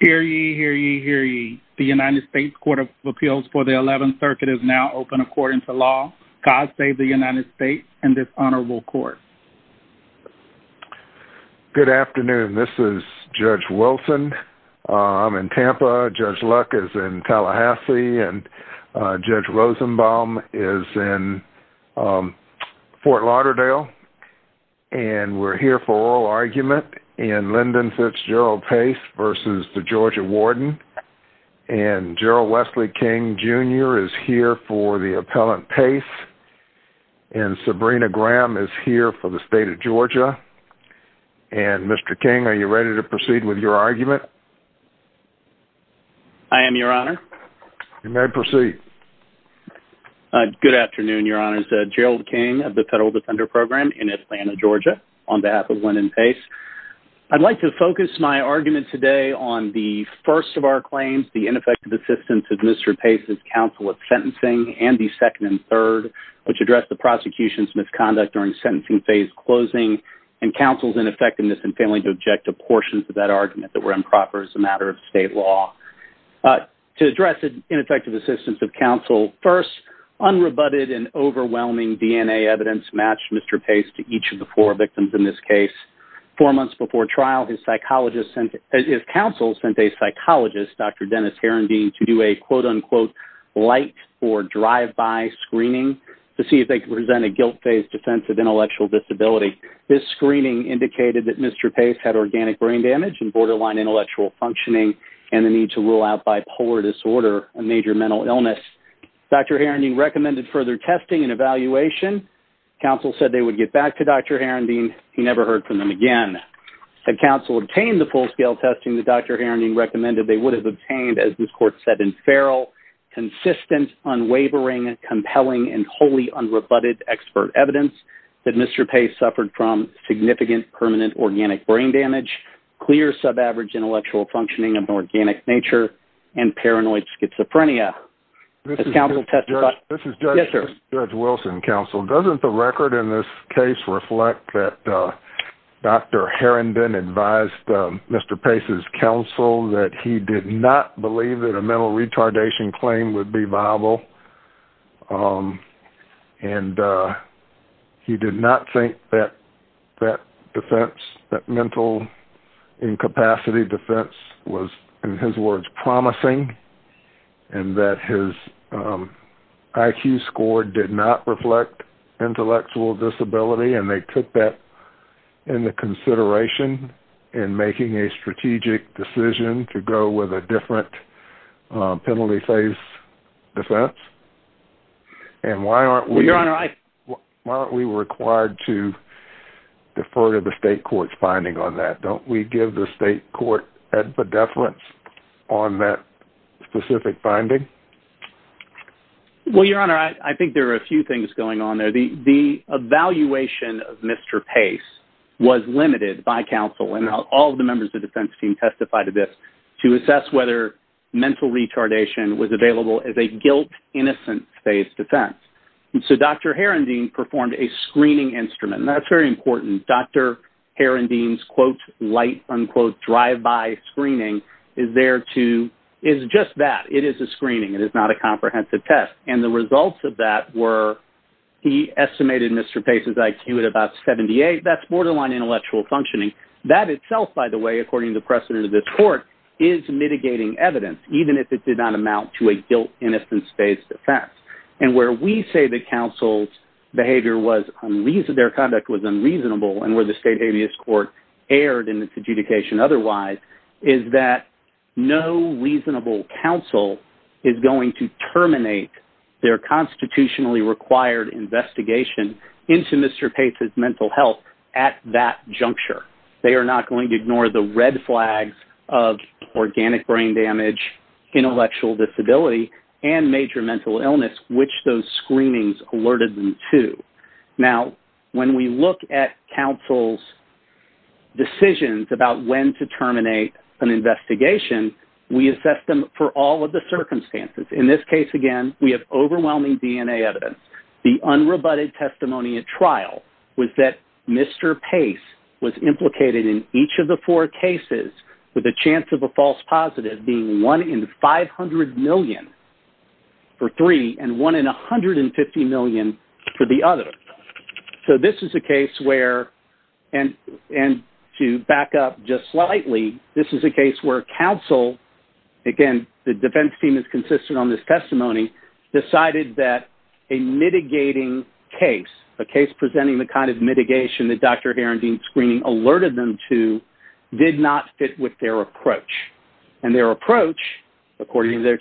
Hear ye, hear ye, hear ye. The United States Court of Appeals for the 11th Circuit is now open according to law. God save the United States and this honorable court. Good afternoon this is Judge Wilson. I'm in Tampa. Judge Luck is in Tallahassee and Judge Rosenbaum is in Fort Lauderdale and we're here for oral case versus the Georgia Warden and Gerald Wesley King Jr. is here for the appellant case and Sabrina Graham is here for the state of Georgia and Mr. King are you ready to proceed with your argument? I am your honor. You may proceed. Good afternoon your honors. Gerald King of the Federal Defender Program in today on the first of our claims, the ineffective assistance of Mr. Pace's counsel at sentencing and the second and third which addressed the prosecution's misconduct during sentencing phase closing and counsel's ineffectiveness and failing to object to portions of that argument that were improper as a matter of state law. To address the ineffective assistance of counsel, first unrebutted and overwhelming DNA evidence matched Mr. Pace to each of the four counsels sent a psychologist Dr. Dennis Heron Dean to do a quote-unquote light or drive-by screening to see if they could present a guilt-based defense of intellectual disability. This screening indicated that Mr. Pace had organic brain damage and borderline intellectual functioning and the need to rule out bipolar disorder a major mental illness. Dr. Heron Dean recommended further testing and evaluation. Counsel said they would get back to Dr. Heron Dean. He obtained the full-scale testing that Dr. Heron Dean recommended they would have obtained as this court said in feral consistent unwavering and compelling and wholly unrebutted expert evidence that Mr. Pace suffered from significant permanent organic brain damage clear sub-average intellectual functioning of organic nature and paranoid schizophrenia. This is Judge Wilson counsel doesn't the record in this case reflect that Dr. Heron Dean advised Mr. Pace's counsel that he did not believe that a mental retardation claim would be viable and he did not think that that defense that mental incapacity defense was in his words promising and that his IQ score did not reflect intellectual disability and they took that in the consideration in making a strategic decision to go with a different penalty phase defense and why aren't we required to defer to the state courts finding on that don't we give the state court at the deference on that specific finding. Well your honor I think there are a few things going on there the evaluation of Mr. Pace was limited by counsel and all the members of the defense team testified to this to assess whether mental retardation was available as a guilt innocent phase defense and so Dr. Heron Dean performed a screening instrument that's very important Dr. Heron Dean's quote light unquote drive by screening is there to is just that it is a screening it is not a comprehensive test and the results of that were he estimated Mr. Pace's IQ at about 78 that's borderline intellectual functioning that itself by the way according to precedent of this court is mitigating evidence even if it did not amount to a guilt innocence phase defense and where we say that counsel's behavior was their conduct was unreasonable and where the state court erred in its adjudication otherwise is that no reasonable counsel is going to terminate their constitutionally required investigation into Mr. Pace's mental health at that juncture they are not going to ignore the red flags of organic brain damage intellectual disability and major mental illness which those screenings alerted them to now when we look at counsel's decisions about when to terminate an investigation we assess them for all of the circumstances in this case again we have overwhelming DNA evidence the unrebutted testimony at trial was that mr. pace was implicated in each of the four cases with a chance of a false positive being one in 500 million for three and one in a hundred and fifty million for the other so this is a case where and and to back up just slightly this is a case where counsel again the defense team is consistent on this testimony decided that a mitigating case a case presenting the kind of mitigation that dr. Aaron Dean screening alerted them to did not fit with their approach and their approach according to their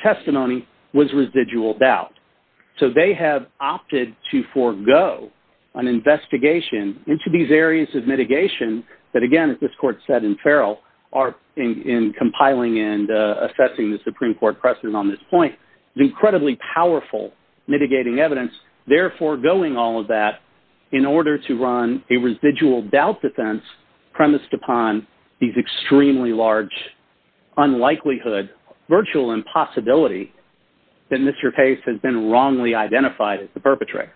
so they have opted to forego an investigation into these areas of mitigation that again as this court said in Farrell are in compiling and assessing the Supreme Court precedent on this point is incredibly powerful mitigating evidence therefore going all of that in order to run a residual doubt defense premised upon these extremely large unlikelihood virtual impossibility that mr. pace has been wrongly identified as the perpetrator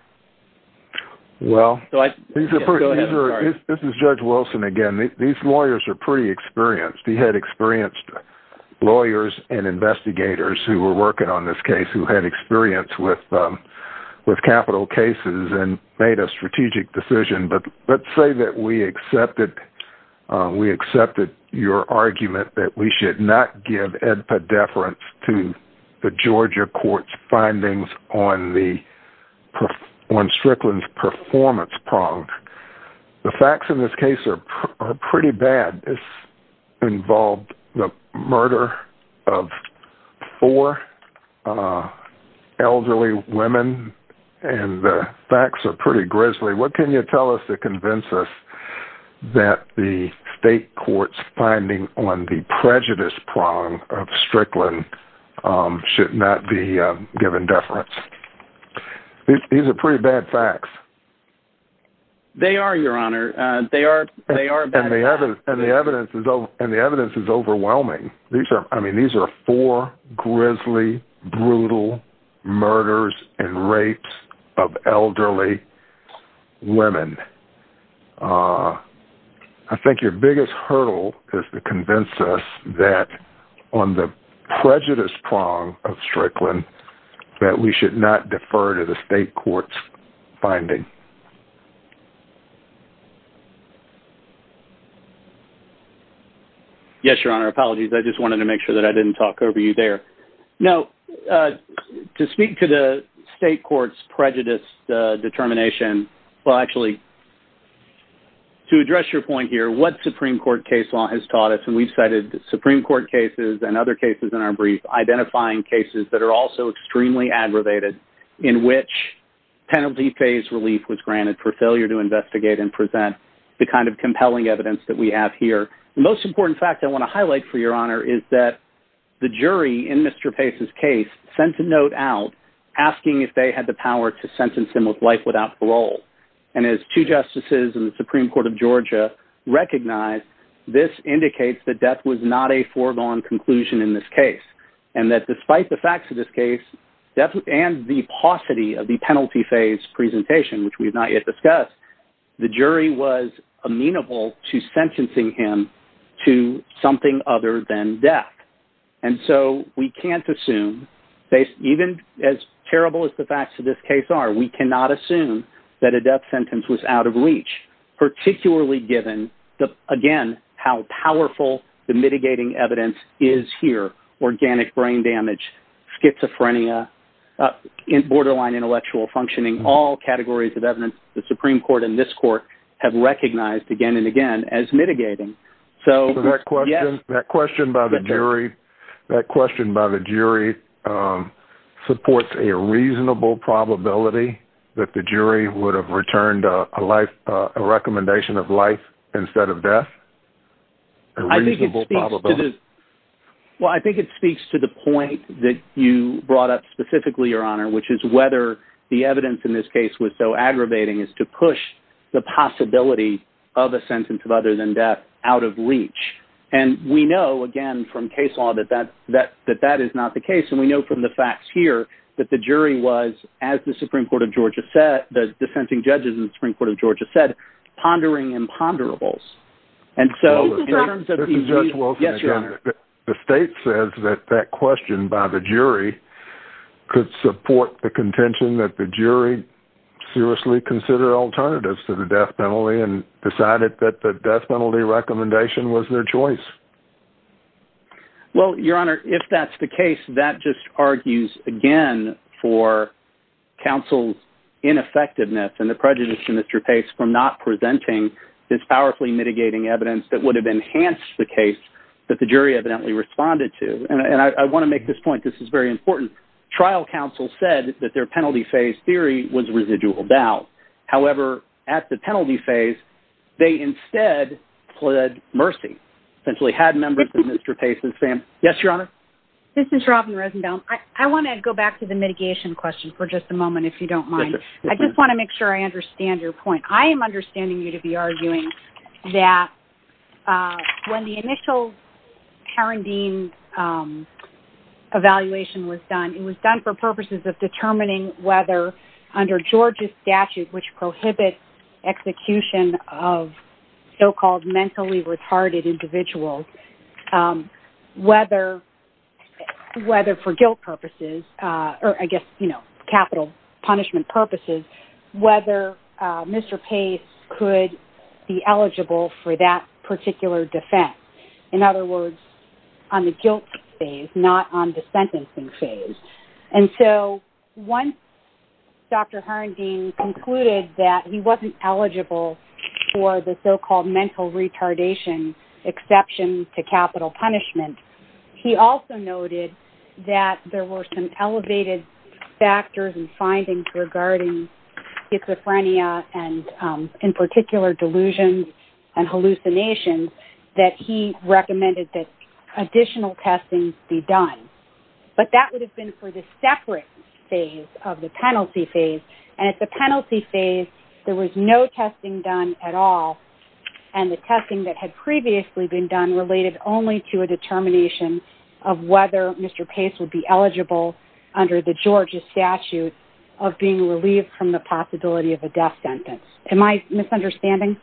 well this is judge Wilson again these lawyers are pretty experienced he had experienced lawyers and investigators who were working on this case who had experience with with capital cases and made a strategic decision but let's say that we accepted we accepted your argument that we should not give edpa deference to the Georgia courts findings on the on Strickland's performance pronged the facts in this case are pretty bad it's involved the murder of four elderly women and the facts are pretty grisly what can you tell us to convince us that the state courts finding on the prejudice prong of Strickland should not be given deference these are pretty bad facts they are your honor they are they are and they haven't and the evidence is though and the evidence is overwhelming these are I mean these are four grisly brutal murders and rapes of elderly women I think your biggest hurdle is to on the prejudice prong of Strickland that we should not defer to the state courts finding yes your honor apologies I just wanted to make sure that I didn't talk over you there no to speak to the state courts prejudiced determination well actually to address your point here what Supreme Court case law has taught Supreme Court cases and other cases in our brief identifying cases that are also extremely aggravated in which penalty phase relief was granted for failure to investigate and present the kind of compelling evidence that we have here most important fact I want to highlight for your honor is that the jury in mr. pace's case sent a note out asking if they had the power to sentence him with life without parole and as two justices and the Supreme Court of that death was not a foregone conclusion in this case and that despite the facts of this case death and the paucity of the penalty phase presentation which we've not yet discussed the jury was amenable to sentencing him to something other than death and so we can't assume they even as terrible as the facts of this case are we cannot assume that a death the mitigating evidence is here organic brain damage schizophrenia in borderline intellectual functioning all categories of evidence the Supreme Court in this court have recognized again and again as mitigating so yes that question by the jury that question by the jury supports a reasonable probability that the jury would have returned a life a recommendation of life instead of death I think it's easy to do well I think it speaks to the point that you brought up specifically your honor which is whether the evidence in this case was so aggravating is to push the possibility of a sentence of other than death out of reach and we know again from case law that that that that that is not the case and we know from the facts here that the jury was as the Supreme Court of Georgia said the dissenting judges in the Supreme Court of Georgia said pondering and ponderables and so the state says that that question by the jury could support the contention that the jury seriously consider alternatives to the death penalty and decided that the death penalty recommendation was their choice well your honor if that's the case that just argues again for counsel's ineffectiveness and the prejudice to mr. pace from not presenting this powerfully mitigating evidence that would have enhanced the case that the jury evidently responded to and I want to make this point this is very important trial counsel said that their penalty phase theory was residual doubt however at the penalty phase they instead pled mercy essentially had members of mr. pace's fam yes your honor this is Robin Rosenthal I want to go back to the mitigation question for just a moment if you don't mind I just want to make sure I understand your point I am understanding you to be arguing that when the initial Karen Dean evaluation was done it was done for purposes of prohibit execution of so-called mentally retarded individuals whether whether for guilt purposes or I guess you know capital punishment purposes whether mr. pace could be eligible for that particular defense in other words on the he wasn't eligible for the so-called mental retardation exception to capital punishment he also noted that there were some elevated factors and findings regarding schizophrenia and in particular delusions and hallucinations that he recommended that additional testing be done but that would have been for the separate phase of the penalty phase and it's a penalty phase there was no testing done at all and the testing that had previously been done related only to a determination of whether mr. pace would be eligible under the Georgia statute of being relieved from the possibility of a death sentence am I misunderstanding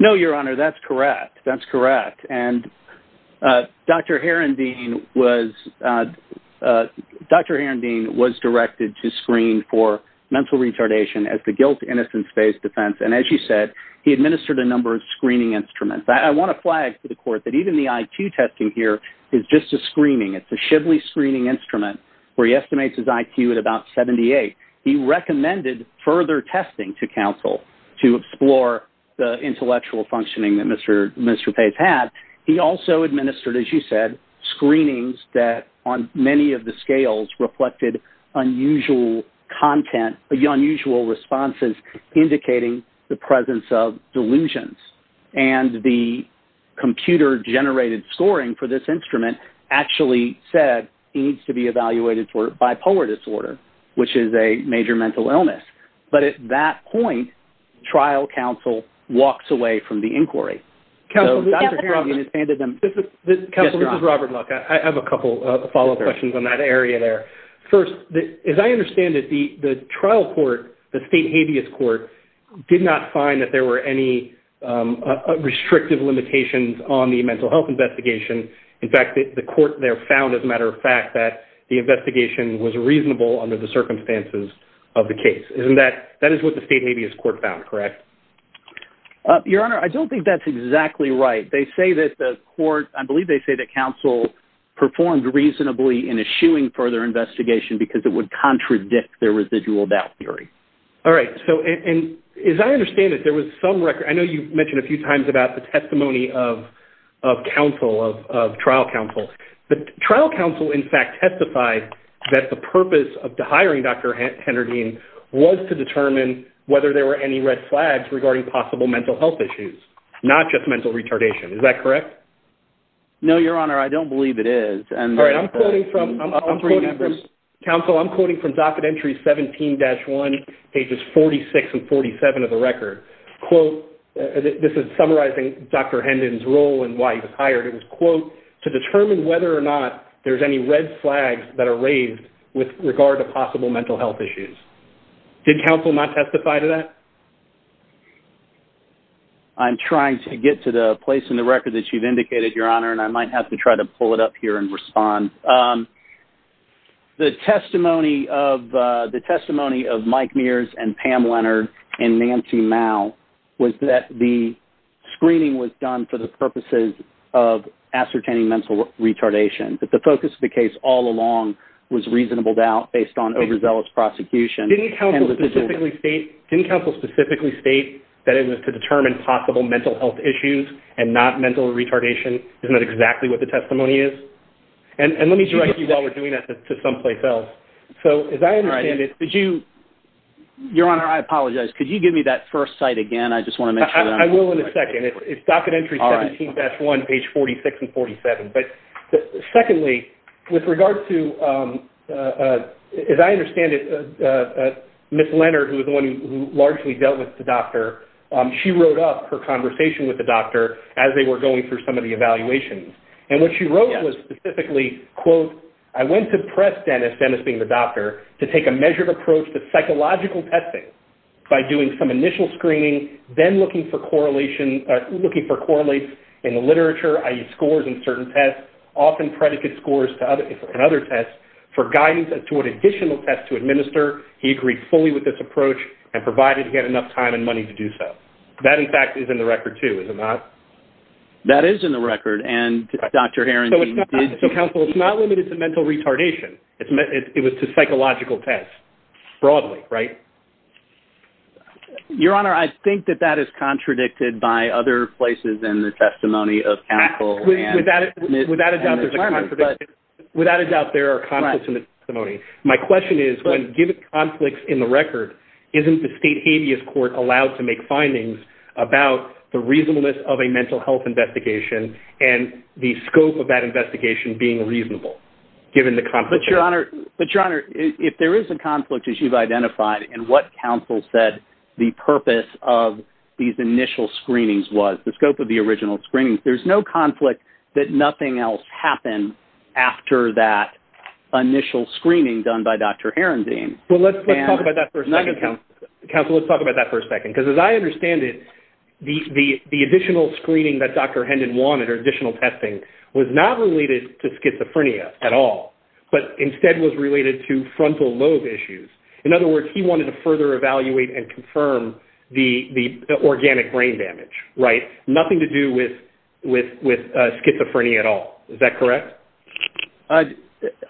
no your honor that's correct that's correct and dr. Heron Dean was dr. Heron Dean was directed to screen for mental retardation as the guilt innocence phase defense and as you said he administered a number of screening instruments I want to flag to the court that even the IQ testing here is just a screening it's a shibbly screening instrument where he estimates his IQ at about 78 he recommended further testing to counsel to explore the intellectual functioning that mr. mr. pace had he also administered as you said screenings that on many of the scales reflected unusual content the unusual responses indicating the presence of delusions and the computer generated scoring for this instrument actually said needs to be evaluated for bipolar disorder which is a major mental illness but at that point trial counsel walks away from the inquiry I have a couple of follow-up questions on that area there first as I understand that the the trial court the state habeas court did not find that there were any restrictive limitations on the mental health investigation in fact that the court there found as a matter of fact that the investigation was reasonable under the circumstances of the case isn't that that is what the state habeas court found correct your honor I don't think that's exactly right they say that the court I believe they say that counsel performed reasonably in issuing further investigation because it would contradict their residual doubt theory all right so and as I understand it there was some record I know you mentioned a few times about the testimony of counsel of trial counsel but trial counsel in fact testified that the purpose of the hiring dr. Henry Dean was to determine whether there were any red flags regarding possible mental health issues not just mental retardation is that correct no your honor I don't believe it is and all right I'm putting from members counsel I'm quoting from docket entry 17-1 pages 46 and 47 of the record quote this is summarizing dr. Hendon's role and why he was hired it was quote to determine whether or not there's any red flags that are raised with regard to possible mental health issues did counsel not testify to that I'm trying to get to the place in the record that you've indicated your honor and I might have to try to pull it up here and respond the testimony of the testimony of Mike Mears and Pam Leonard and Nancy Mao was that the screening was done for the purposes of ascertaining mental retardation but the focus of the case all along was reasonable doubt based on overzealous prosecution didn't count specifically state didn't counsel specifically state that it was to determine possible mental health issues and not mental retardation isn't that exactly what the testimony is and let me direct you while we're doing that to someplace else so as I understand it did you your honor I apologize could you give me that first site again I just want to make sure I will in a second it regards to as I understand it miss Leonard who is the one who largely dealt with the doctor she wrote up her conversation with the doctor as they were going through some of the evaluations and what she wrote was specifically quote I went to press Dennis Dennis being the doctor to take a measured approach to psychological testing by doing some initial screening then looking for correlation looking for correlates in the literature I use scores in certain tests often predicate scores to other tests for guidance as to what additional tests to administer he agreed fully with this approach and provided he had enough time and money to do so that in fact is in the record too is it not that is in the record and dr. Harington counsel it's not limited to mental retardation it's meant it was to psychological tests broadly right your honor I think that that is contradicted by other places in the testimony of without a doubt there are comments in the testimony my question is when given conflicts in the record isn't the state habeas court allowed to make findings about the reasonableness of a mental health investigation and the scope of that investigation being reasonable given the conflict your honor but your honor if there is a conflict as you've identified and what counsel said the purpose of these initial screenings was the scope of the original screenings there's no conflict that nothing else happened after that initial screening done by dr. Heron Dean well let's talk about that for a second council let's talk about that for a second because as I understand it the the additional screening that dr. Hendon wanted or additional testing was not related to schizophrenia at all but instead was related to frontal lobe issues in other words he wanted to further evaluate and confirm the the organic brain damage right nothing to do with with with schizophrenia at all is that correct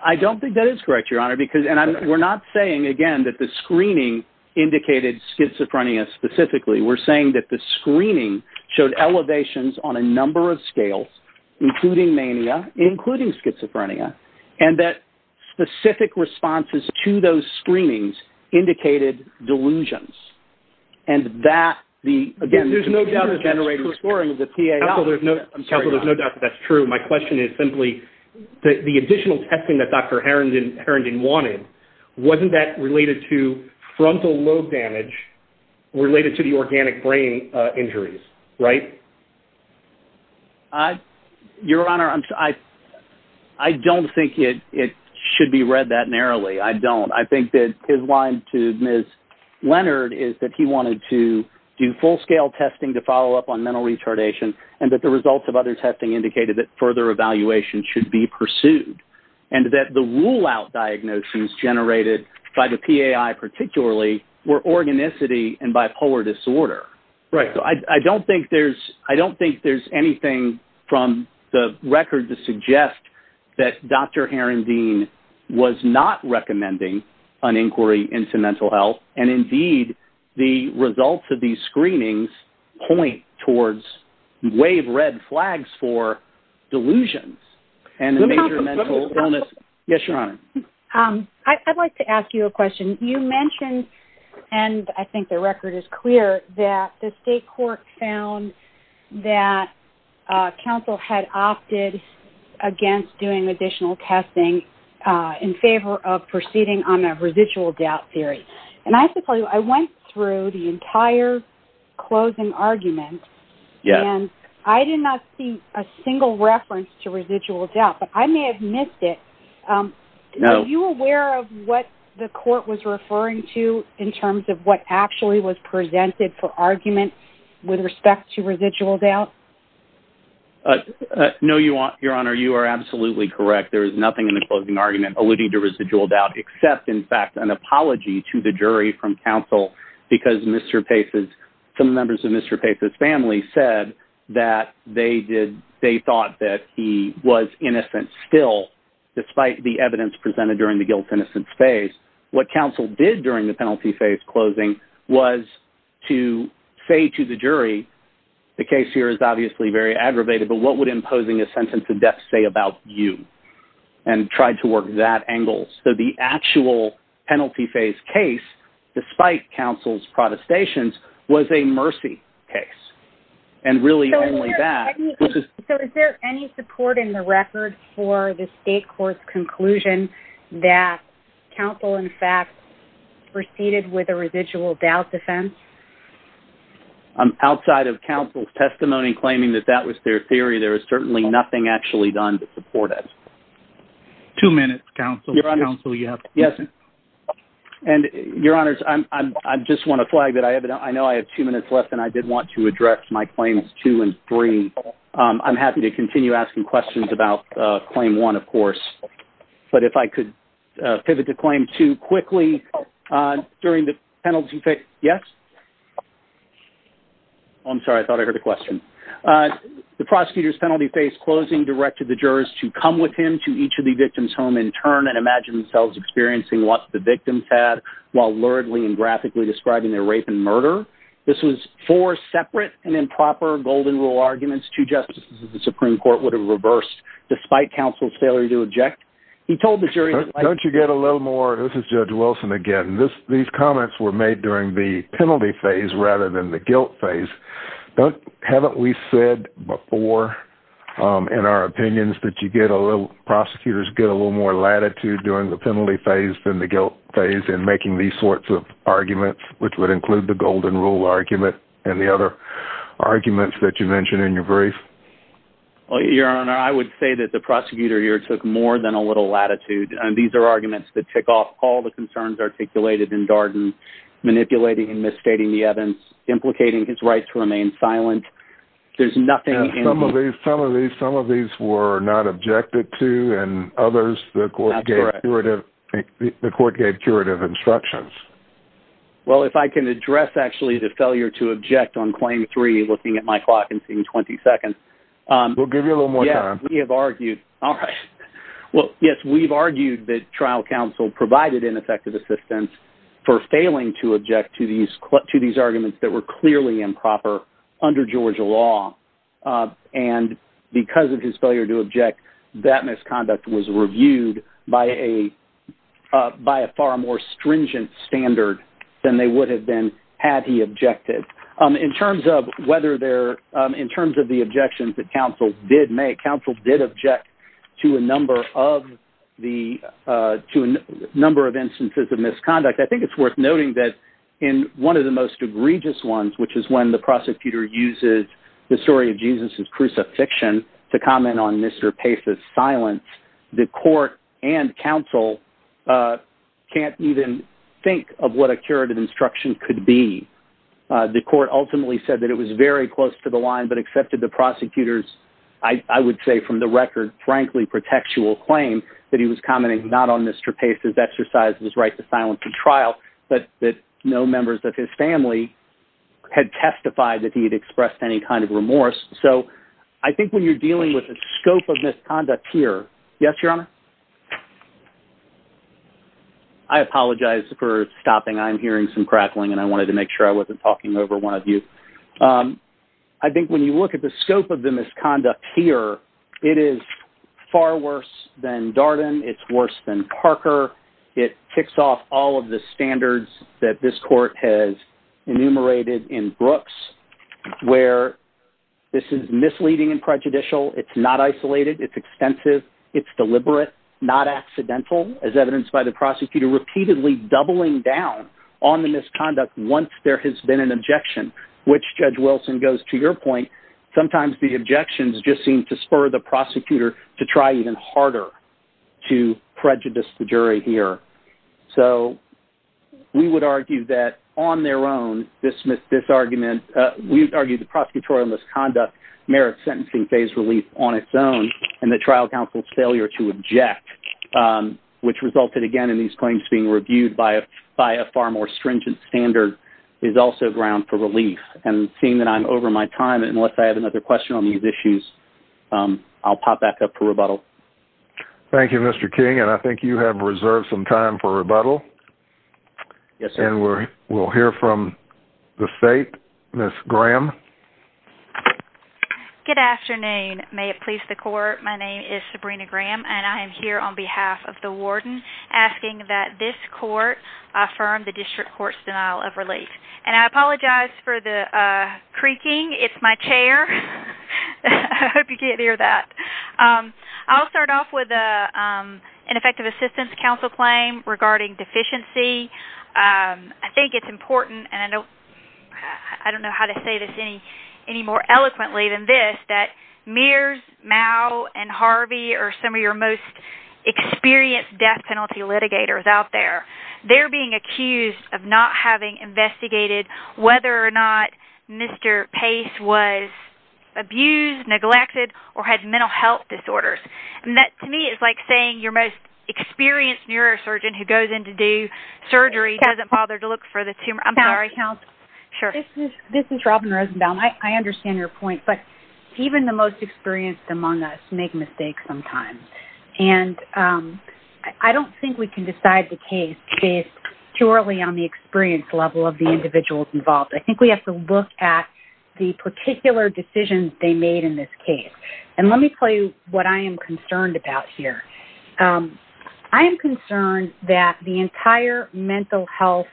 I don't think that is correct your honor because and I'm we're not saying again that the screening indicated schizophrenia specifically we're saying that the screening showed elevations on a number of scales including mania including schizophrenia and that specific responses to those screenings indicated delusions and that the again there's no generator scoring of the PA although there's no I'm sure there's no doubt that's true my question is simply the additional testing that dr. Heron didn't Heron didn't wanted wasn't that related to frontal lobe damage related to the organic brain injuries right I your honor I'm sorry I don't think it it should be read that narrowly I don't I think that his line to miss Leonard is that he wanted to do full-scale testing to follow up on mental retardation and that the results of other testing indicated that further evaluation should be pursued and that the rule-out diagnoses generated by the PAI particularly were organicity and bipolar disorder right so I don't think there's I don't think there's anything from the record to suggest that dr. Heron Dean was not recommending an inquiry into mental health and indeed the results of these screenings point towards wave red flags for delusions and yes your honor I'd like to ask you a question you mentioned and I think the record is clear that the state court found that counsel had opted against doing additional testing in favor of proceeding on a residual doubt theory and I have to tell you I went through the entire closing argument yeah I did not see a single reference to residual doubt but I may have missed it no you aware of what the court was referring to in terms of what actually was presented for argument with respect to residual doubt no you want your honor you are absolutely correct there is nothing in the closing argument alluding to residual doubt except in fact an apology to the jury from counsel because mr. pace is some members of mr. pace's family said that they did they thought that he was innocent still despite the evidence presented during the guilt innocence phase what counsel did during the penalty phase closing was to say to the jury the case here is obviously very aggravated but what would imposing a sentence of death say about you and tried to work that angle so the actual penalty phase case despite counsel's protestations was a mercy case and really only that is there any support in the record for the state court's conclusion that counsel in fact proceeded with a residual doubt defense I'm outside of counsel's testimony claiming that that was their theory there is certainly nothing actually done to support it two minutes counsel counsel you have yes and your honors I'm I just want to flag that I have it I know I have two minutes left and I did want to address my claims two and three I'm happy to continue asking questions about claim one of course but if I could pivot the claim to quickly during the penalty pick yes I'm sorry I thought I heard a question the prosecutor's penalty face closing directed the jurors to come with him to each of the victims home in turn and imagine themselves experiencing what the victims had while luridly and graphically describing their rape and murder this was four separate and improper golden rule arguments two justices of the Supreme Court would have reversed despite counsel's failure to object he told the jury don't you get a little more this is judge Wilson again this these comments were made during the penalty phase rather than the guilt phase but haven't we said before in our opinions that you get a little prosecutors get a little more latitude during the penalty phase than the guilt phase and making these sorts of arguments which would include the golden rule argument and the other arguments that you mentioned in your brief well your honor I would say that the prosecutor here took more than a little latitude and these are arguments that tick off all the concerns articulated in Darden manipulating and misstating the Evans implicating his rights to remain silent there's nothing in some of these some of these some of these were not objected to and others the court gave curative the court gave curative instructions well if I can address actually the failure to object on claim three looking at my clock and seeing 20 seconds we'll give you a little more time we have argued all right well yes we've argued that trial counsel provided ineffective assistance for failing to object to these to these arguments that were clearly improper under Georgia law and because of his failure to object that misconduct was reviewed by a by a more stringent standard than they would have been had he objected in terms of whether they're in terms of the objections that counsel did make counsel did object to a number of the to a number of instances of misconduct I think it's worth noting that in one of the most egregious ones which is when the prosecutor uses the story of Jesus's crucifixion to comment on mr. pace's silence the court and counsel can't even think of what a curative instruction could be the court ultimately said that it was very close to the line but accepted the prosecutors I would say from the record frankly protectual claim that he was commenting not on mr. pace's exercise his right to silence the trial but that no members of his family had testified that he had expressed any kind of remorse so I think when you're dealing with a scope of misconduct here yes your honor I apologize for stopping I'm hearing some crackling and I wanted to make sure I wasn't talking over one of you I think when you look at the scope of the misconduct here it is far worse than Darden it's worse than Parker it kicks off all of the standards that this court has enumerated in Brooks where this is misleading and prejudicial it's not isolated it's extensive it's deliberate not accidental as evidenced by the prosecutor repeatedly doubling down on the misconduct once there has been an objection which judge Wilson goes to your point sometimes the objections just seem to spur the prosecutor to try even harder to prejudice the jury here so we would do that on their own dismiss this argument we've argued the prosecutorial misconduct merits sentencing phase relief on its own and the trial counsel's failure to object which resulted again in these claims being reviewed by a by a far more stringent standard is also ground for relief and seeing that I'm over my time unless I have another question on these issues I'll pop back up for rebuttal Thank You mr. King and I think you have reserved some time for rebuttal yes and we're we'll hear from the state miss Graham good afternoon may it please the court my name is Sabrina Graham and I am here on behalf of the warden asking that this court affirm the district courts denial of relief and I apologize for the creaking it's my chair I hope you can't that I'll start off with a ineffective assistance counsel claim regarding deficiency I think it's important and I don't I don't know how to say this any any more eloquently than this that mirrors now and Harvey or some of your most experienced death penalty litigators out there they're being accused of not having investigated whether or not mr. pace was abused neglected or had mental health disorders and that to me is like saying your most experienced neurosurgeon who goes in to do surgery doesn't bother to look for the tumor I'm sorry count sure this is Robin Rosenbaum I understand your point but even the most experienced among us make mistakes sometimes and I don't think we can decide the case based purely on the experience level of the individuals involved I think we have to look at the particular decisions they made in this case and let me tell you what I am concerned about here I am concerned that the entire mental health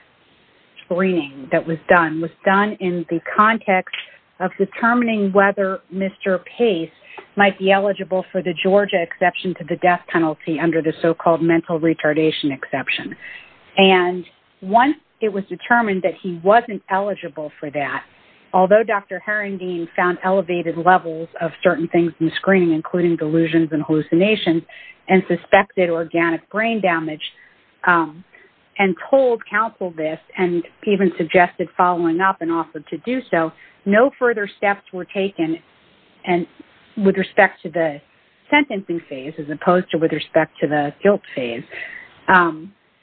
screening that was done was done in the context of determining whether mr. pace might be eligible for the Georgia exception to the death penalty under the so-called mental retardation exception and once it was determined that he wasn't eligible for that although dr. parenting found elevated levels of certain things in screening including delusions and hallucinations and suspected organic brain damage and told counsel this and even suggested following up and offered to do so no further steps were taken and with respect to the sentencing phase as opposed to with respect to the guilt phase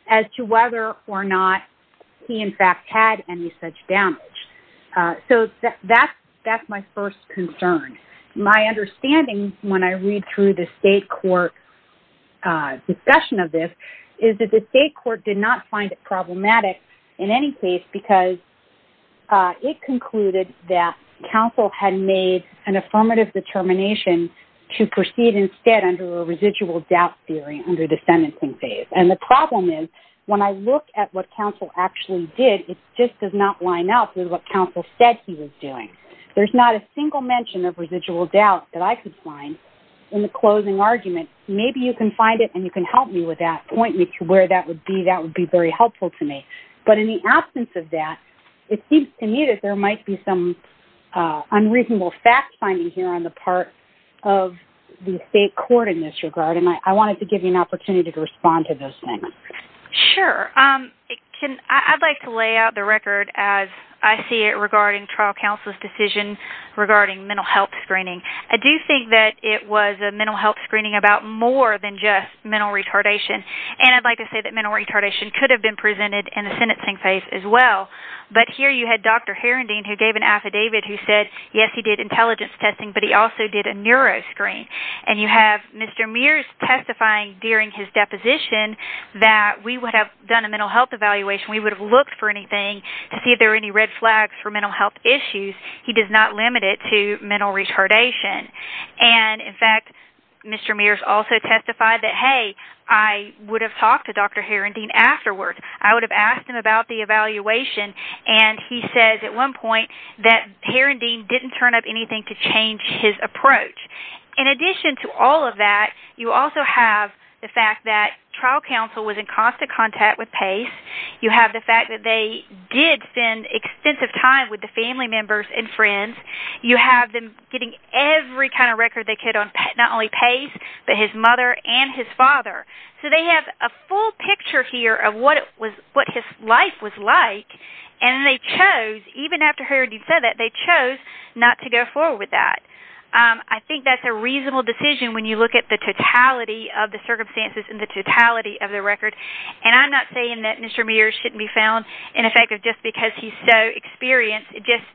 as to whether or not he in fact had any such damage so that's that's my first concern my understanding when I read through the state court discussion of this is that the state court did not find it problematic in any case because it concluded that counsel had made an affirmative determination to proceed instead under a residual doubt theory under the sentencing phase and the problem is when I look at what counsel actually did it just does not line up with what counsel said he was doing there's not a single mention of residual doubt that I could find in the closing argument maybe you can find it and you can help me with that point me to where that would be that would be very helpful to me but in the absence of that it seems to me that there might be some unreasonable fact-finding here on the part of the state court in this regard and I wanted to give you an opportunity to respond to this. Sure, I'd like to lay out the record as I see it regarding trial counsel's decision regarding mental health screening I do think that it was a mental health screening about more than just mental retardation and I'd like to say that mental retardation could have been presented in the sentencing phase as well but here you had Dr. Heron Dean who gave an affidavit who said yes he did intelligence testing but he also did a screen and you have Mr. Mears testifying during his deposition that we would have done a mental health evaluation we would have looked for anything to see if there are any red flags for mental health issues he does not limit it to mental retardation and in fact Mr. Mears also testified that hey I would have talked to Dr. Heron Dean afterward I would have asked him about the evaluation and he says at one point that Heron Dean didn't turn up anything to change his approach in addition to all of that you also have the fact that trial counsel was in constant contact with Pace you have the fact that they did spend extensive time with the family members and friends you have them getting every kind of record they could on not only Pace but his mother and his father so they have a full picture here of what it was what his life was like and they chose even after Heron Dean said that they chose not to go forward with that I think that's a reasonable decision when you look at the totality of the circumstances in the totality of the record and I'm not saying that Mr. Mears shouldn't be found ineffective just because he's so experienced it just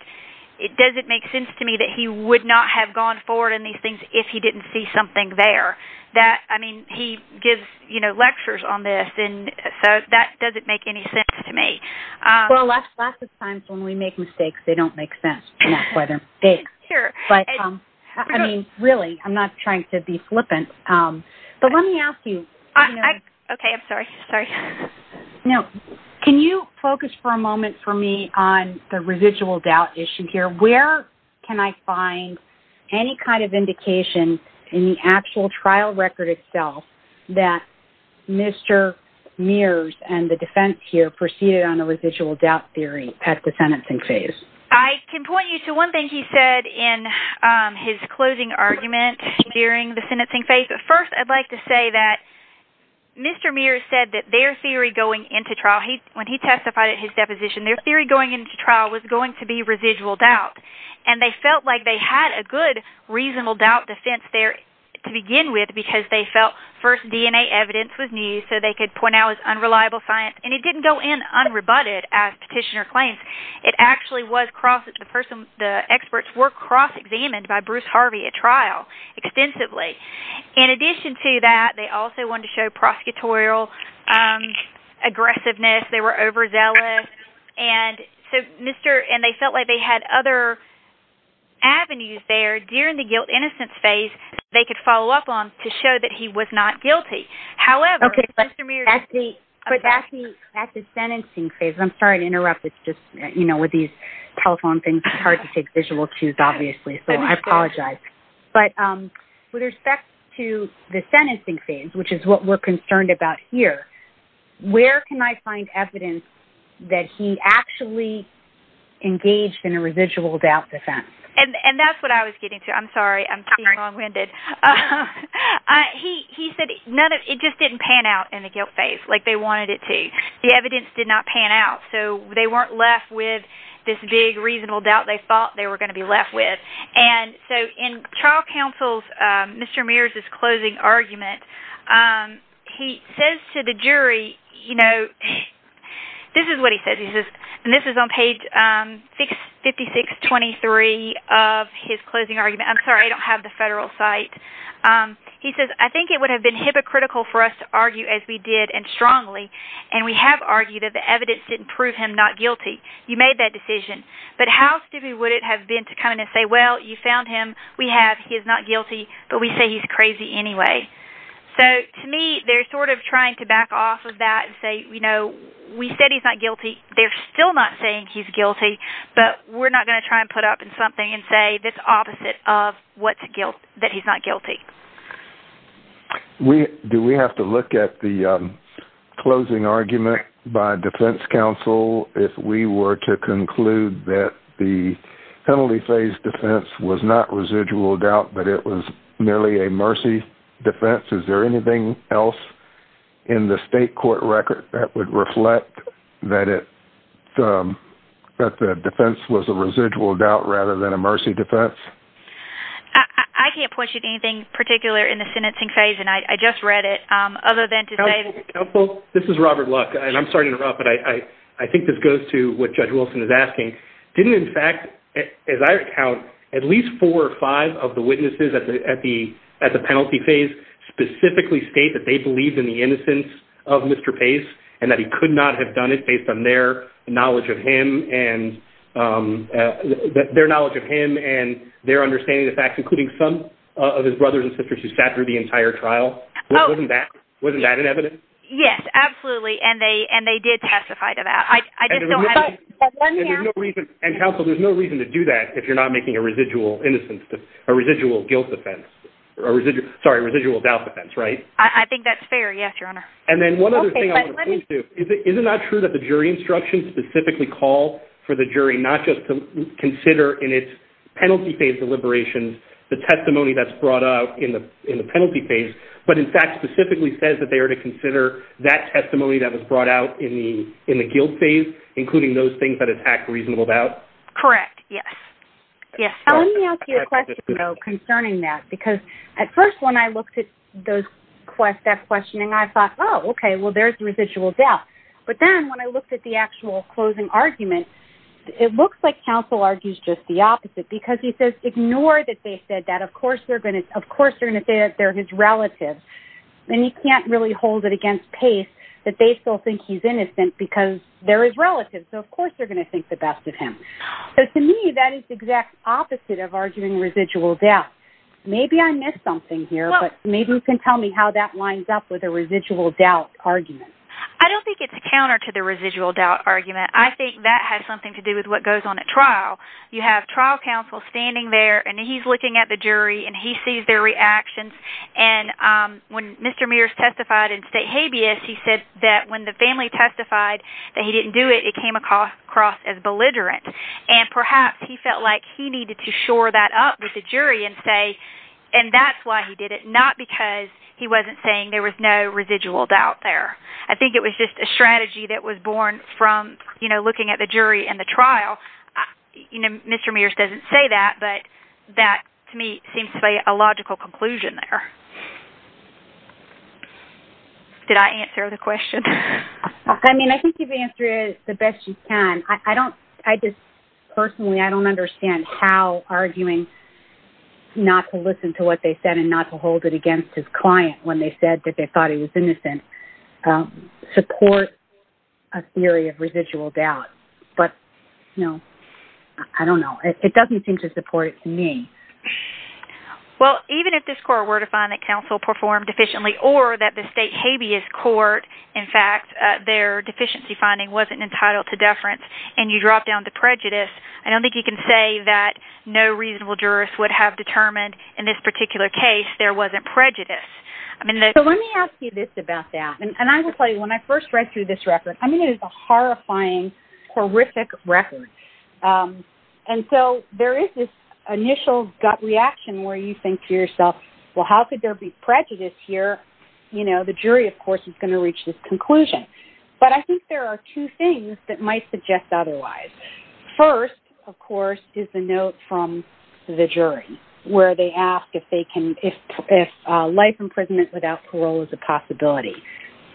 it doesn't make sense to me that he would not have gone forward in these things if he didn't see something there that I mean he gives you know lectures on this and so that doesn't make any sense to me well that's lots of times when we make mistakes they don't make sense whether they're here but I mean really I'm not trying to be flippant but let me ask you okay I'm sorry sorry no can you focus for a moment for me on the residual doubt issue here where can I find any kind of indication in the actual trial record itself that Mr. Mears and the defense here proceeded on a residual doubt theory at the sentencing phase I can point you to one thing he said in his closing argument during the sentencing phase but first I'd like to say that Mr. Mears said that their theory going into trial he when he testified at his deposition their theory going into trial was going to be residual doubt and they felt like they had a good reasonable doubt defense there to begin with because they felt first DNA evidence was new so they could point out his unreliable science and it didn't go in unrebutted as petitioner claims it actually was crosses the person the experts were cross-examined by Bruce Harvey at trial extensively in addition to that they also wanted to show prosecutorial aggressiveness they were overzealous and so mr. and they felt like they had other avenues there during the guilt innocence phase they could follow up on to show that he was not guilty however at the at the sentencing phase I'm sorry to interrupt it's just you know with these telephone things it's hard to take visual cues obviously so I apologize but with respect to the sentencing phase which is what we're concerned about here where can I find evidence that he actually engaged in a residual doubt defense and and that's what I was getting to I'm sorry I'm wrong winded he said none of it just didn't pan out in the guilt phase like they wanted it to the evidence did not pan out so they weren't left with this big reasonable doubt they thought they were going to be left with and so in trial counsel's mr. Mears is closing argument he says to the jury you know this is what he said he's just and this is on page 656 23 of his closing argument I'm sorry I don't have the federal site he says I think it would have been hypocritical for us to argue as we did and strongly and we have argued that the evidence didn't prove him not guilty you made that decision but how stupid would it have been to come in and say well you found him we have he is not guilty but we say he's crazy anyway so to me they're sort of trying to back off of that and say you know we said he's not guilty they're still not saying he's guilty but we're not going to try and put up in something and say this opposite of what's guilt that he's not guilty we do we have to look at the closing argument by defense counsel if we were to conclude that the penalty phase defense was not residual doubt but it was merely a mercy defense is there anything else in the state court record that would reflect that it that the defense was a residual doubt rather than a mercy defense I can't point you to anything particular in the sentencing phase and I just read it other than to say well this is Robert luck and I'm sorry to interrupt but I I think this goes to what judge Wilson is asking didn't in fact as I recount at least four or five of the witnesses at the at the at the penalty phase specifically state that they believed in the innocence of mr. pace and that he could not have done it based on their knowledge of him and their knowledge of him and their understanding the facts including some of his brothers and sisters who sat through the entire trial wasn't that wasn't that an evidence yes absolutely and they and they did testify to that I and counsel there's no reason to do that if you're not making a residual innocence a residual guilt defense a residual sorry residual doubt defense right I think that's fair yes and then one other thing is it is it not true that the jury instruction specifically call for the jury not just to consider in its penalty phase deliberations the testimony that's brought out in the in the penalty phase but in fact specifically says that they are to consider that testimony that was brought out in the in the guilt phase including those things that attack reasonable doubt correct yes yes concerning that because at first when I okay well there's a residual death but then when I looked at the actual closing argument it looks like counsel argues just the opposite because he says ignore that they said that of course they're going to of course they're going to say that they're his relative then you can't really hold it against pace that they still think he's innocent because there is relative so of course they're going to think the best of him so to me that is the exact opposite of arguing residual death maybe I missed something here but maybe you can tell me how that residual doubt argument I don't think it's a counter to the residual doubt argument I think that has something to do with what goes on at trial you have trial counsel standing there and he's looking at the jury and he sees their reactions and when Mr. Mears testified in state habeas he said that when the family testified that he didn't do it it came across as belligerent and perhaps he felt like he needed to shore that up with the jury and say and that's why he did it not because he wasn't saying there was no residual doubt there I think it was just a strategy that was born from you know looking at the jury and the trial you know Mr. Mears doesn't say that but that to me seems to be a logical conclusion there did I answer the question I mean I think you've answered it the best you can I don't I just personally I don't understand how arguing not to listen to what they said and not to hold it against his client when they said that they thought he was innocent support a theory of residual doubt but you know I don't know it doesn't seem to support me well even if this court were to find that counsel performed efficiently or that the state habeas court in fact their deficiency finding wasn't entitled to deference and you drop down to prejudice I don't think you can say that no reasonable jurors would have determined in this particular case there wasn't prejudice I mean let me ask you this about that and I will tell you when I first read through this record I mean it is a horrifying horrific record and so there is this initial gut reaction where you think to yourself well how could there be prejudice here you know the jury of course is going to reach this conclusion but I think there are two things that might suggest otherwise first of course is the note from the jury where they ask if they can if life imprisonment without parole is a possibility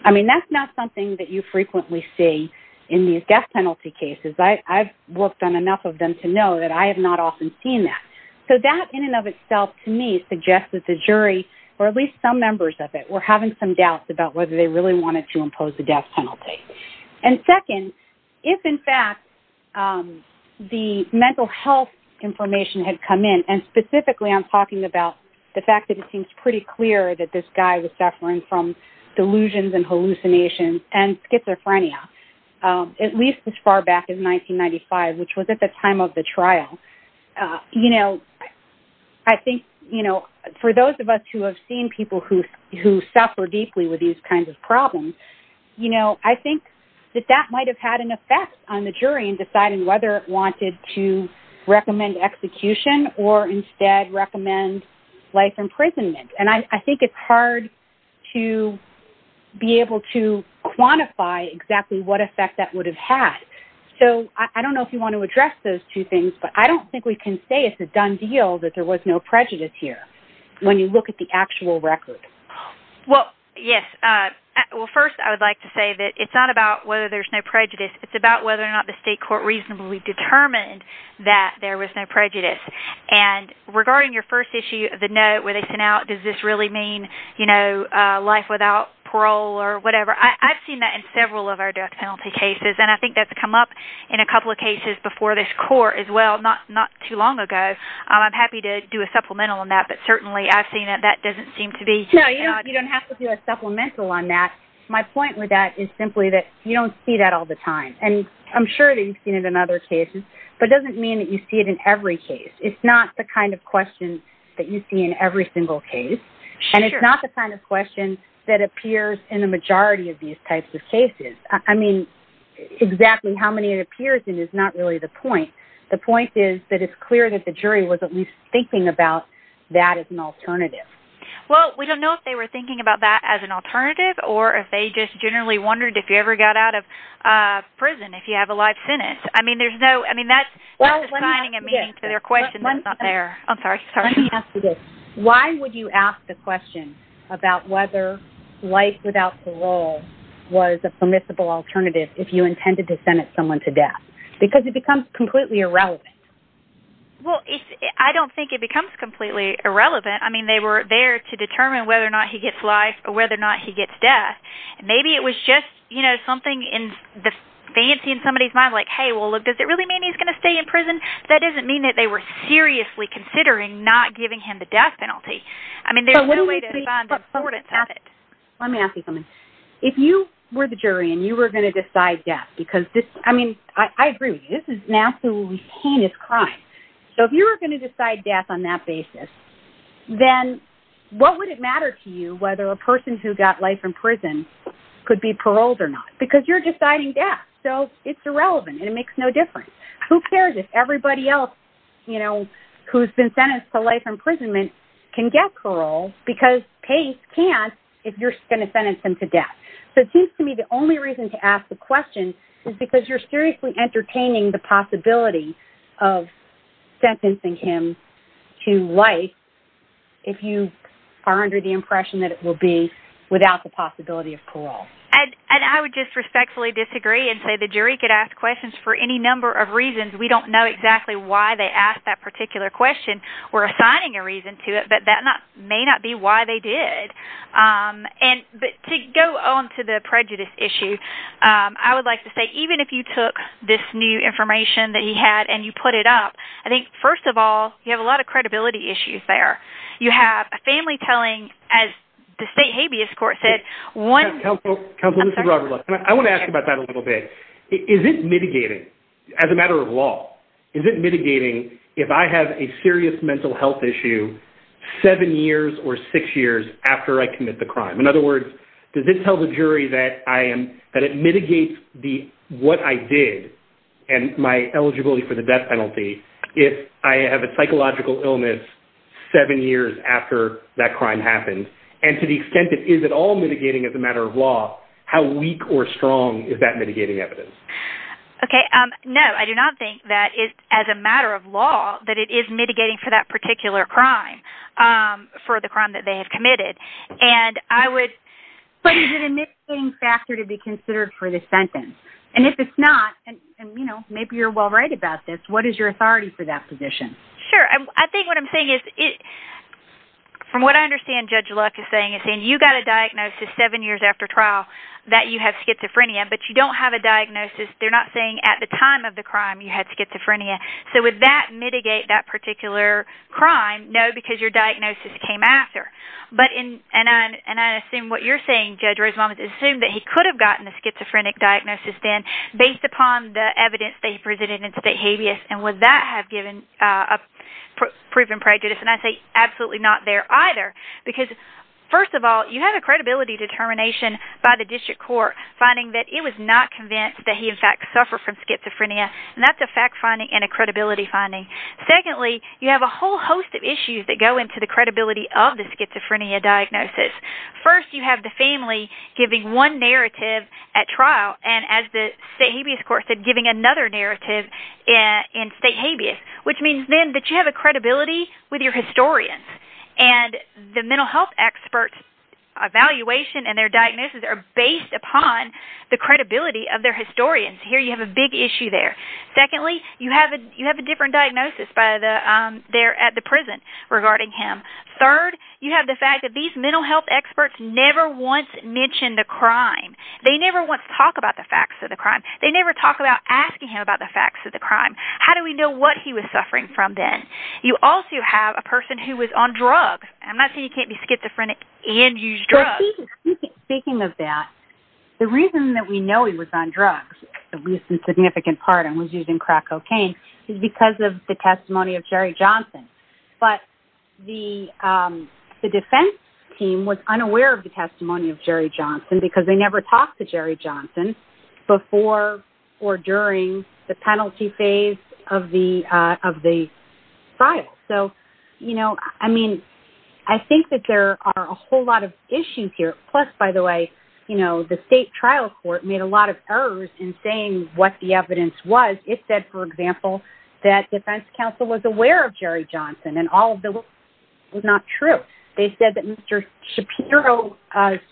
I mean that's not something that you frequently see in these death penalty cases I've worked on enough of them to know that I have not often seen that so that in and of itself to me suggests that the jury or at least some members of it we're having some doubts about whether they really wanted to impose the death penalty and second if in fact the mental health information had come in and specifically I'm talking about the fact that it seems pretty clear that this guy was suffering from delusions and hallucinations and schizophrenia at least as far back as 1995 which was at the time of the trial you know I think you know for those of us who have seen people who who suffer deeply with these kinds of problems you know I think that that might have had an effect on the jury in deciding whether it wanted to recommend execution or instead recommend life imprisonment and I think it's hard to be able to quantify exactly what effect that would have had so I don't know if you want to address those two things but I don't think we can say it's a done deal that there was no prejudice here when you look at the actual record well yes well first I would like to say that it's not about whether there's no prejudice it's about whether or not the state court reasonably determined that there was no prejudice and regarding your first issue of the note where they sent out does this really mean you know life without parole or whatever I've seen that in several of our death penalty cases and I think that's come up in a couple of cases before this court as well not not too long ago I'm happy to do a supplemental on that but certainly I've seen that that doesn't seem to be no you don't have to do a supplemental on that my point with that is simply that you don't see that all the time and I'm sure that you've seen it in other cases but doesn't mean that you see it in every case it's not the kind of question that you see in every single case and it's not the kind of question that appears in the majority of these types of cases I mean exactly how many it appears in is not really the point the point is that it's clear that the jury was at least thinking about that as an alternative well we don't know if they were thinking about that as an alternative or if they just generally wondered if you ever got out of prison if you have a life in it I mean there's no I mean that's what I'm signing a meeting to their question that's not there I'm sorry sorry yes why would you ask the question about whether life without parole was a permissible alternative if you intended to send it someone to death because it becomes completely irrelevant well I don't think it becomes completely irrelevant I mean they were there to determine whether or not he gets life or whether or not he gets death and maybe it was just you know something in the fancy in somebody's mind like hey well look does it really mean he's going to stay in prison that doesn't mean that they were seriously considering not giving him the death penalty I mean there's a little way to find the importance of it let me ask you something if you were the jury and you were going to decide death because this I mean I agree this is an absolutely heinous crime so if you were going to decide death on that basis then what would it matter to you whether a person who got life in prison could be paroled or not because you're deciding death so it's irrelevant and it makes no difference who cares if everybody else you know who's been sentenced to life imprisonment can get parole because pace can't if you're going to sentence them to death so it seems to me the only reason to ask the question is because you're seriously entertaining the possibility of sentencing him to life if you are under the impression that it will be without the possibility of parole and I would just respectfully disagree and say the jury could ask questions for any number of reasons we don't know exactly why they asked that particular question we're assigning a reason to it but that not may not be why they did and but to go on to the prejudice issue I would like to say even if you took this new information that he had and you put it up I think first of all you have a lot of credibility issues there you have a family telling as the state habeas court said one helpful comes with the rubber look I want to ask about that a little bit is it mitigating as a matter of law is it mitigating if I have a serious mental health issue seven years or six years after I commit the crime in other words does it tell the jury that I am that it mitigates the what I did and my eligibility for the death penalty if I have a psychological illness seven years after that crime happened and to the extent it is at all mitigating as a matter of law how weak or strong is that mitigating evidence okay no I do not think that is as a matter of law that it is mitigating for that particular crime for the crime that they have committed and I would but anything factor to be considered for this sentence and if it's not and you know maybe you're well right about this what is your authority for that position sure I think what I'm saying is it from what I understand judge luck is saying is saying you got a diagnosis seven years after trial that you have diagnosis they're not saying at the time of the crime you had schizophrenia so with that mitigate that particular crime no because your diagnosis came after but in and I and I assume what you're saying judge Rosemont is assumed that he could have gotten the schizophrenic diagnosis then based upon the evidence they presented in state habeas and would that have given a proven prejudice and I say absolutely not there either because first of all you have a credibility determination by the district court finding that it was not convinced that he in fact suffer from schizophrenia and that's a fact finding and a credibility finding secondly you have a whole host of issues that go into the credibility of the schizophrenia diagnosis first you have the family giving one narrative at trial and as the habeas court said giving another narrative in state habeas which means then that you have a credibility with your historians and the mental health experts evaluation and their of their historians here you have a big issue there secondly you have a you have a different diagnosis by the there at the prison regarding him third you have the fact that these mental health experts never once mentioned a crime they never want to talk about the facts of the crime they never talk about asking him about the facts of the crime how do we know what he was suffering from then you also have a person who was on drugs I'm not saying you can't be different and use drugs speaking of that the reason that we know he was on drugs at least in significant part and was using crack cocaine is because of the testimony of Jerry Johnson but the the defense team was unaware of the testimony of Jerry Johnson because they never talked to Jerry Johnson before or during the penalty phase of the of the trial so you know I mean I think that there are a whole lot of issues here plus by the way you know the state trial court made a lot of errors in saying what the evidence was it said for example that defense counsel was aware of Jerry Johnson and all of the was not true they said that mr. Shapiro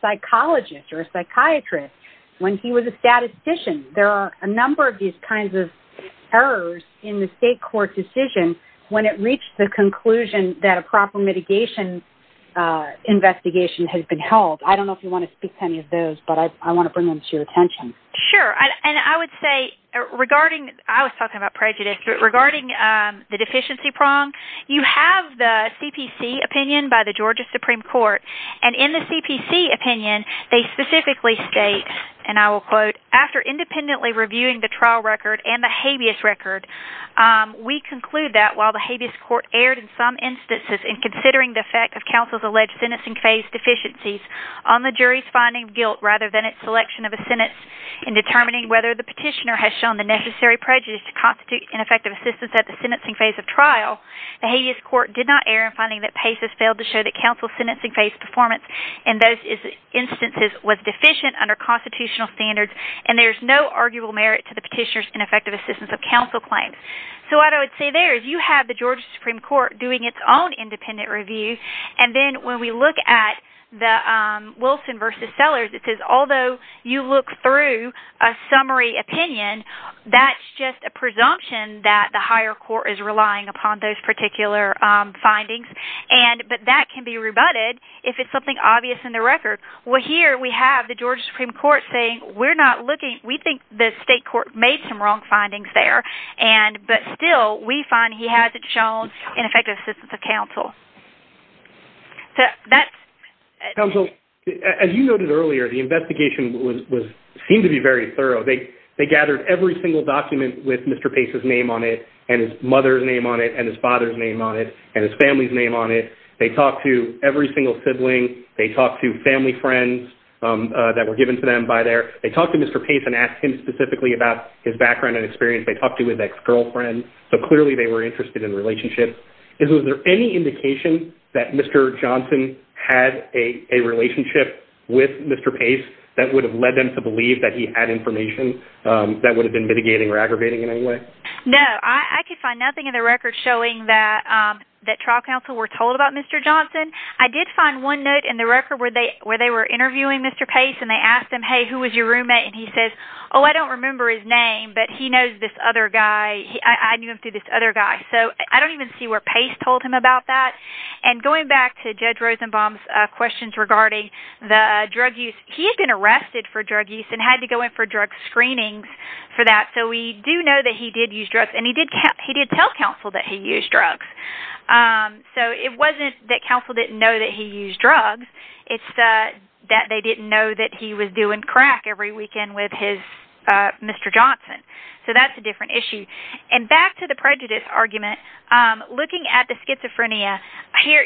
psychologist or a psychiatrist when he was a statistician there are a number of these kinds of errors in the state court when it reached the conclusion that a proper mitigation investigation has been held I don't know if you want to speak to any of those but I want to bring them to your attention sure and I would say regarding I was talking about prejudice regarding the deficiency prong you have the CPC opinion by the Georgia Supreme Court and in the CPC opinion they specifically state and I will quote after independently reviewing the trial record and the habeas record we conclude that while the habeas court erred in some instances in considering the effect of counsel's alleged sentencing phase deficiencies on the jury's finding guilt rather than its selection of a sentence in determining whether the petitioner has shown the necessary prejudice to constitute ineffective assistance at the sentencing phase of trial the habeas court did not err in finding that Pace has failed to show that counsel sentencing phase performance in those instances was deficient under constitutional standards and there's no arguable merit to the petitioner's ineffective assistance of counsel claims so what I would say there is you have the Georgia Supreme Court doing its own independent review and then when we look at the Wilson versus Sellers it says although you look through a summary opinion that's just a presumption that the higher court is relying upon those particular findings and but that can be recorded well here we have the Georgia Supreme Court saying we're not looking we think the state court made some wrong findings there and but still we find he has it shown ineffective assistance of counsel so that's counsel as you noted earlier the investigation was seemed to be very thorough they they gathered every single document with Mr. Pace's name on it and his mother's name on it and his father's name on it and his family's name on it they talked to every single sibling they talked to family friends that were given to them by their they talked to Mr. Pace and asked him specifically about his background and experience they talked to his ex-girlfriend so clearly they were interested in relationships is there any indication that Mr. Johnson had a relationship with Mr. Pace that would have led them to believe that he had information that would have been mitigating or aggravating in any way no I could find nothing in the record showing that that trial counsel were told about Mr. Johnson I did find one note in the record where they where they were interviewing Mr. Pace and they asked him hey who was your roommate and he says oh I don't remember his name but he knows this other guy I knew him through this other guy so I don't even see where Pace told him about that and going back to Judge Rosenbaum's questions regarding the drug use he's been arrested for drug use and had to go in for drug screenings for that so we do know that he did use drugs and he did tell counsel that he used drugs so it wasn't that counsel didn't know that he used drugs it's that that they didn't know that he was doing crack every weekend with his Mr. Johnson so that's a different issue and back to the prejudice argument looking at the schizophrenia here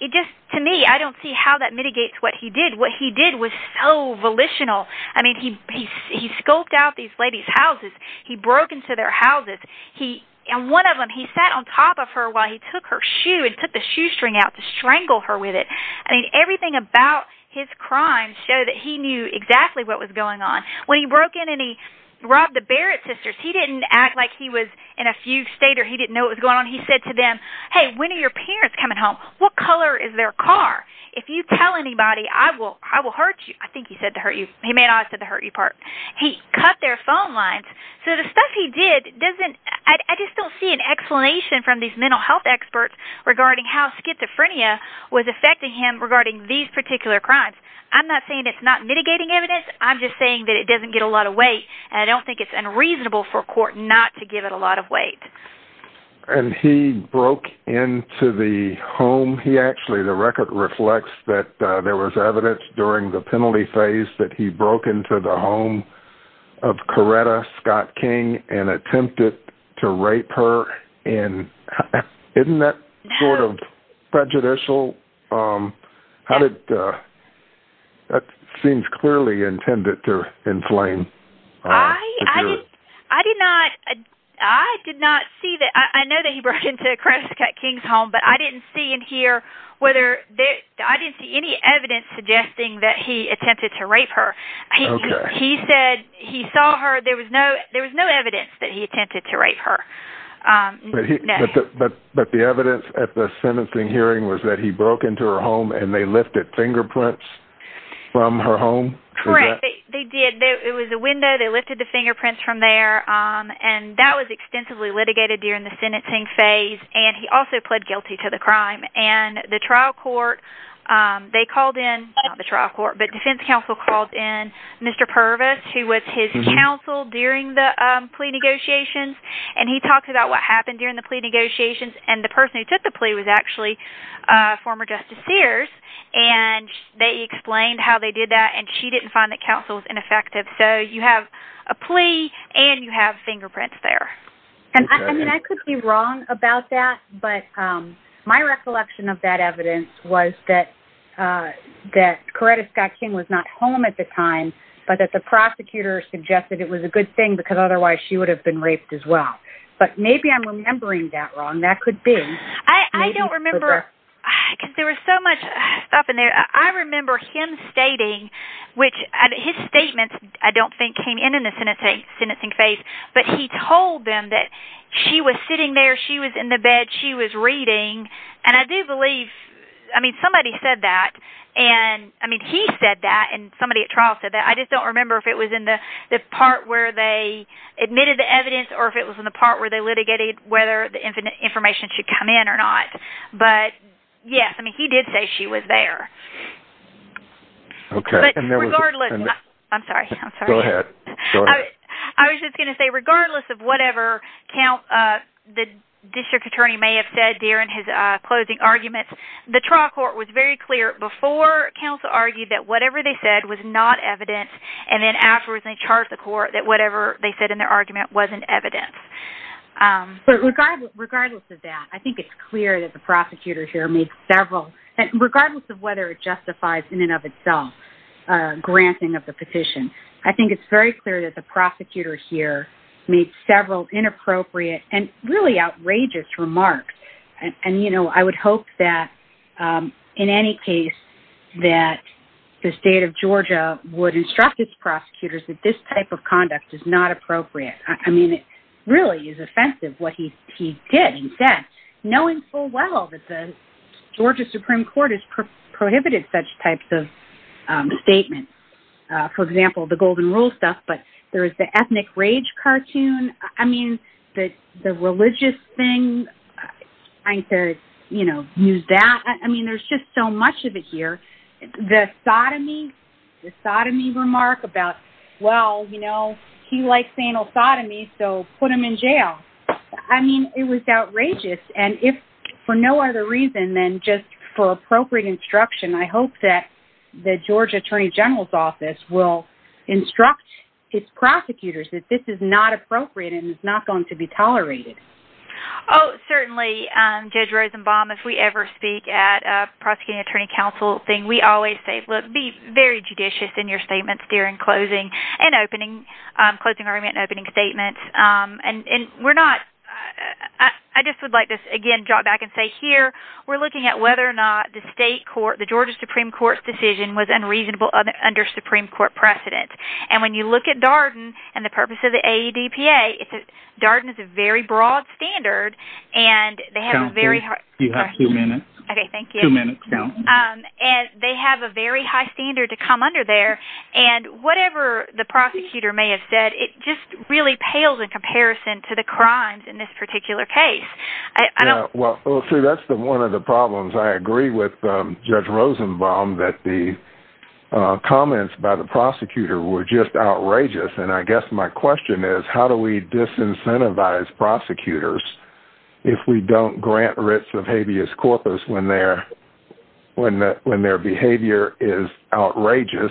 it just to me I don't see how that mitigates what he did what he did was so volitional I mean he scoped out these ladies houses he broke into their houses he and one of them he sat on top of her while he took her shoe and took the shoestring out to strangle her with it I mean everything about his crimes show that he knew exactly what was going on when he broke in and he robbed the Barrett sisters he didn't act like he was in a few stater he didn't know what was going on he said to them hey when are your parents coming home what color is their car if you tell anybody I will I will hurt you I think he said to hurt you he may not have said to hurt you part he cut their phone lines so the stuff he did doesn't I just don't see an explanation from these mental health experts regarding how schizophrenia was affecting him regarding these particular crimes I'm not saying it's not mitigating evidence I'm just saying that it doesn't get a lot of weight and I don't think it's unreasonable for court not to give it a lot of weight and he broke into the home he actually the record reflects that there was evidence during the penalty phase that he broke into the home of Coretta Scott King and attempted to rape her and isn't that sort of prejudicial how did that seems clearly intended to inflame I did not I did not see that I know that he broke into a crack at Kings home but I didn't see and hear whether I didn't see any evidence suggesting that he attempted to rape her he said he saw her there was no there was no evidence that he attempted to rape her but the evidence at the sentencing hearing was that he broke into her home and they lifted fingerprints from her home correct they did it was a window they lifted the fingerprints from there and that was extensively litigated during the sentencing phase and he also pled guilty to the crime and the trial court they called in the trial court but defense counsel called in Mr. Purvis who was his counsel during the plea negotiations and he talked about what happened during the plea negotiations and the person who took the plea was actually former Justice Sears and they explained how they did that and she didn't find that counsel was ineffective so you have a plea and you have fingerprints there and I mean I could be wrong about that but my recollection of that evidence was that that Coretta Scott King was not home at the time but that the prosecutor suggested it was a good thing because otherwise she would have been raped as well but maybe I'm remembering that wrong that could be I don't remember there was so much stuff in there I remember him stating which his statements I don't think came in in the sentencing phase but he told them that she was sitting there she was in the bed she was reading and I do believe I mean somebody said that and I mean he said that and somebody at trial said that I just don't remember if it was in the part where they admitted the evidence or if it was in the part where they litigated whether the infinite information should come in or not but yes I mean he did say she was there okay I'm sorry I was just gonna say regardless of whatever count the district attorney may have said here in his closing arguments the trial court was very clear before counsel argued that whatever they said was not evidence and then afterwards they charged the court that whatever they said in their argument wasn't evidence regardless of that I think it's clear that the prosecutor here made several and regardless of whether it justifies in and of itself granting of the petition I made several inappropriate and really outrageous remarks and you know I would hope that in any case that the state of Georgia would instruct its prosecutors that this type of conduct is not appropriate I mean it really is offensive what he he did and said knowing full well that the Georgia Supreme Court is prohibited such types of statements for example the golden rule stuff but there is the ethnic rage cartoon I mean that the religious thing I said you know use that I mean there's just so much of it here the sodomy the sodomy remark about well you know he likes anal sodomy so put him in jail I mean it was outrageous and if for no other reason than just for appropriate instruction I hope that the Georgia Attorney General's office will instruct its prosecutors that this is not appropriate and it's not going to be tolerated oh certainly judge Rosenbaum if we ever speak at a prosecuting attorney counsel thing we always say look be very judicious in your statements during closing and opening closing argument opening statements and we're not I just would like to again drop back and say here we're looking at whether or not the state court the Georgia Supreme Court's decision was unreasonable under Supreme Court precedent and when you look at Darden and the purpose of the AEDPA it's a Darden is a very broad standard and they have a very high you have two minutes okay thank you minute count and they have a very high standard to come under there and whatever the prosecutor may have said it just really pales in comparison to the crimes in this problems I agree with judge Rosenbaum that the comments by the prosecutor were just outrageous and I guess my question is how do we disincentivize prosecutors if we don't grant writs of habeas corpus when they're when that when their behavior is outrageous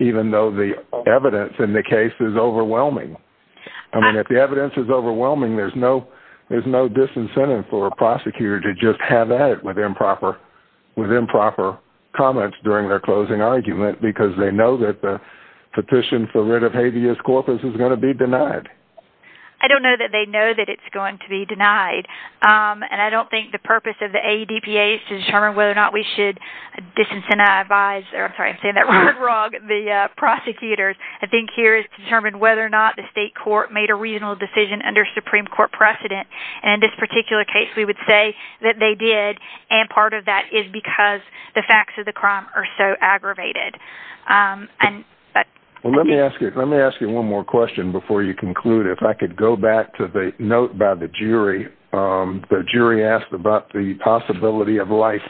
even though the evidence in the case is overwhelming I mean if the evidence is overwhelming there's no there's no disincentive for a prosecutor to just have that with improper with improper comments during their closing argument because they know that the petition for writ of habeas corpus is going to be denied I don't know that they know that it's going to be denied and I don't think the purpose of the AEDPA is to determine whether or not we should disincentivize or I'm sorry I'm saying that wrong the prosecutors I think here is to determine whether or not the state court made a reasonable decision under Supreme Court precedent and in this particular case we would say that they did and part of that is because the facts of the crime are so aggravated and but well let me ask you let me ask you one more question before you conclude if I could go back to the note by the jury the jury asked about the possibility of life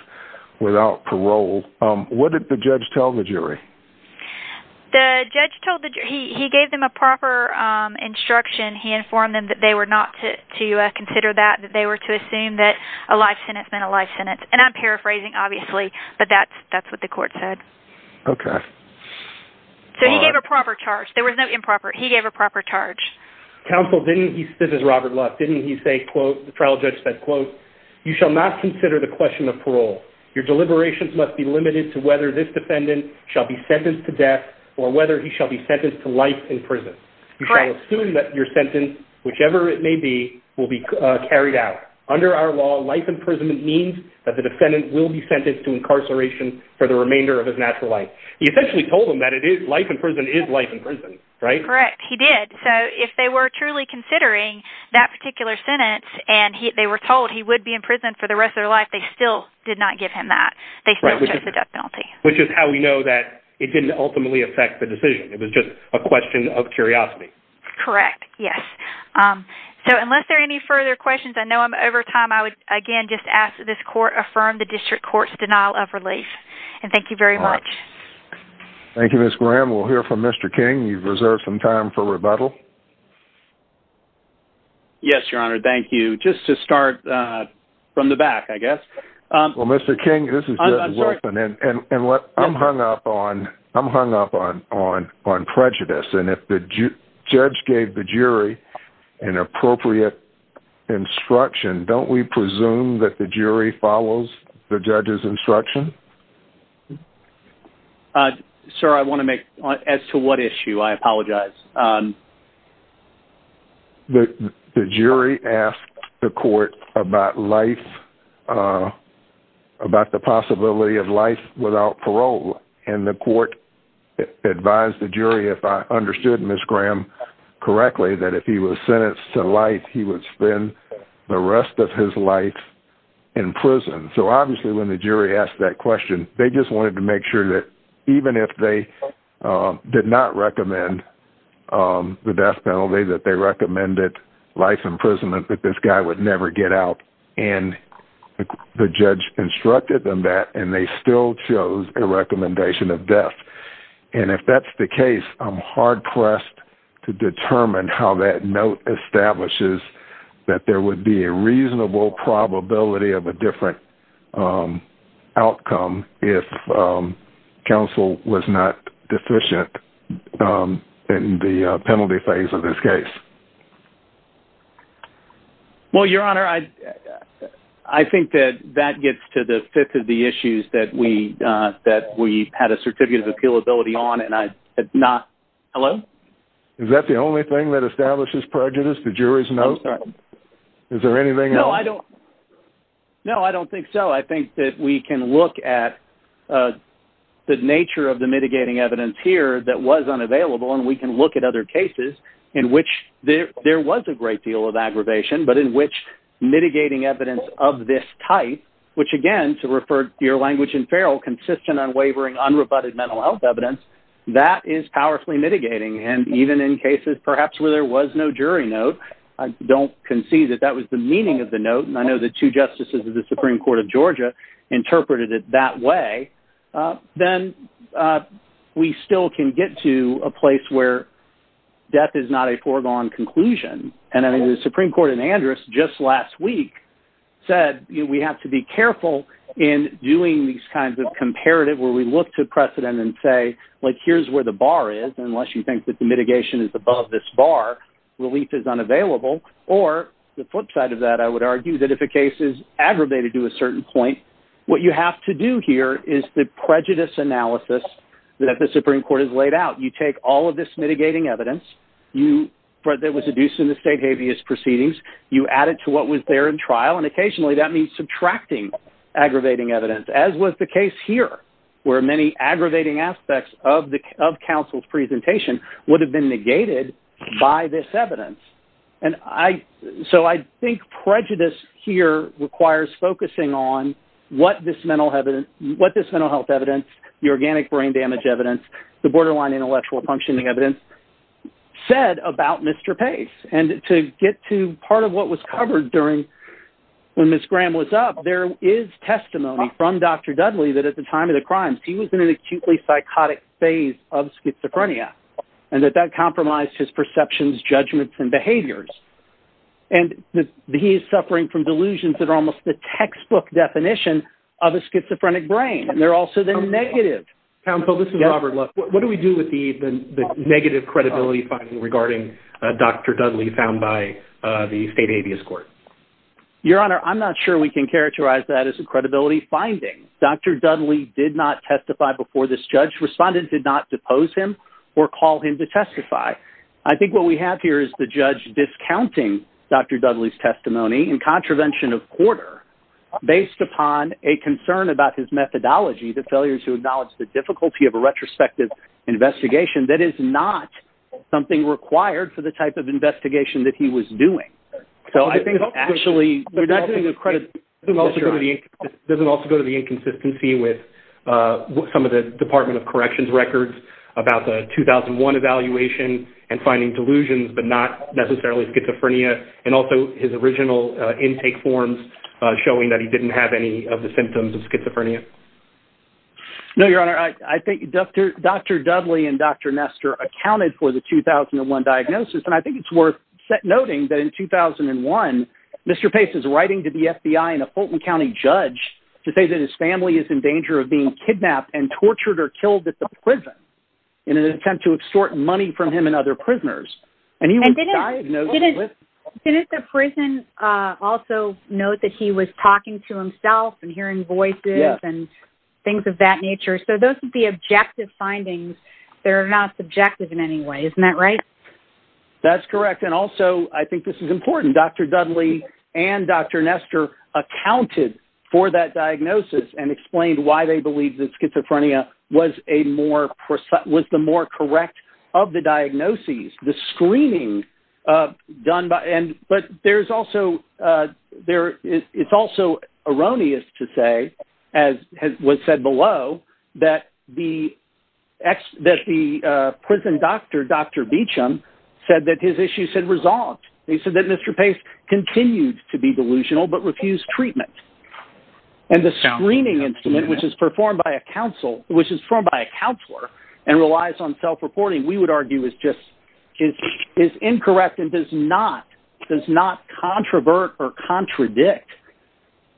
without parole what did the judge tell the jury the judge told the jury he gave them a proper instruction he informed them that they were not to consider that they were to assume that a life sentence meant a life sentence and I'm paraphrasing obviously but that's that's what the court said okay so he gave a proper charge there was no improper he gave a proper charge counsel didn't he this is Robert Luck didn't he say quote the trial judge said quote you shall not consider the question of parole your deliberations must be limited to whether this defendant shall be sentenced to death or whether he shall be sentenced to life in prison you shall assume that your sentence whichever it may be will be carried out under our law life imprisonment means that the defendant will be sentenced to incarceration for the remainder of his natural life he essentially told them that it is life in prison is life in prison right correct he did so if they were truly considering that particular sentence and he they were told he would be in prison for the rest of their life they still did not give him that they still chose the death penalty which is how we know that it didn't ultimately affect the decision it was just a question of curiosity correct yes so unless there any further questions I know I'm over time I would again just ask this court affirm the district courts denial of relief and thank you very much thank you miss Graham we'll hear from mr. King you've reserved some time for rebuttal yes your honor thank you just to start from the back I guess well mr. King this is and what I'm hung up on I'm hung up on on on prejudice and if the judge gave the jury an appropriate instruction don't we presume that the jury follows the judge's instruction sir I want to make as to what issue I apologize the jury asked the court about life about the possibility of life without parole and the court advised the jury if I understood miss Graham correctly that if he was sentenced to life he would spend the rest of his life in prison so obviously when the jury asked that question they just wanted to make sure that even if they did not recommend the death penalty that they recommended life imprisonment that this guy would never get out and the judge instructed them that and they still chose a recommendation of death and if that's the case I'm hard-pressed to determine how that note establishes that there would be a reasonable probability of a different outcome if counsel was not deficient in the penalty phase of this case well your honor I I think that that gets to the fifth of the issues that we that we had a certificate of appeal ability on and I not hello is that the only thing that establishes prejudice the jury's no sir is there anything no I don't know I don't think so I think that we can look at the nature of the mitigating evidence here that was unavailable and we can look at other cases in which there there was a great deal of aggravation but in which mitigating evidence of this type which again to refer your language and feral consistent on wavering unrebutted mental health evidence that is powerfully mitigating and even in cases perhaps where there was no jury note I don't concede that that was the meaning of the note and I know that two justices of the Supreme Court of Georgia interpreted it that way then we still can get to a place where death is not a foregone conclusion and I mean the Supreme Court in Andrus just last week said we have to be careful in doing these kinds of comparative where we look to precedent and say like here's where the bar is unless you think that the mitigation is above this bar relief is unavailable or the flip side of that I would argue that if a case is aggravated to a certain point what you have to do here is the prejudice analysis that the Supreme Court is laid out you take all of this mitigating evidence you but there was a deuce in the state habeas proceedings you add it to what was there in trial and occasionally that means subtracting evidence as was the case here where many aggravating aspects of the of counsel's presentation would have been negated by this evidence and I so I think prejudice here requires focusing on what this mental heaven what this mental health evidence the organic brain damage evidence the borderline intellectual functioning evidence said about mr. pace and to get to part of what was covered during when miss Graham was up there is testimony from dr. Dudley that at the time of the crimes he was in an acutely psychotic phase of schizophrenia and that that compromised his perceptions judgments and behaviors and that he is suffering from delusions that are almost the textbook definition of a schizophrenic brain and they're also the negative council this is Robert look what do we do with the negative credibility finding regarding dr. Dudley by the state habeas court your honor I'm not sure we can characterize that as a credibility finding dr. Dudley did not testify before this judge responded did not depose him or call him to testify I think what we have here is the judge discounting dr. Dudley's testimony in contravention of quarter based upon a concern about his methodology the failures who acknowledge the difficulty of a retrospective investigation that is not something required for the type of investigation that he was doing so I think actually we're not doing the credit it also doesn't also go to the inconsistency with some of the Department of Corrections records about the 2001 evaluation and finding delusions but not necessarily schizophrenia and also his original intake forms showing that he didn't have any of the symptoms of schizophrenia no your honor I think dr. dr. Dudley and dr. Nestor accounted for the 2001 diagnosis and I think it's worth noting that in 2001 mr. Pace is writing to the FBI in a Fulton County judge to say that his family is in danger of being kidnapped and tortured or killed at the prison in an attempt to extort money from him and other prisoners and he was diagnosed with it. Didn't the prison also note that he was talking to himself and hearing voices and things of that nature so those would be objective findings there are not subjective in any way isn't that right that's correct and also I think this is important dr. Dudley and dr. Nestor accounted for that diagnosis and explained why they believe that schizophrenia was a more percent was the more correct of the diagnoses the screening done by and but there's also there it's also erroneous to say as was said below that the ex that the prison doctor dr. Beauchamp said that his issues had resolved they said that mr. Pace continued to be delusional but refused treatment and the screening instrument which is performed by a council which is formed by a counselor and relies on self-reporting we would argue is just is incorrect and does not does not controvert or contradict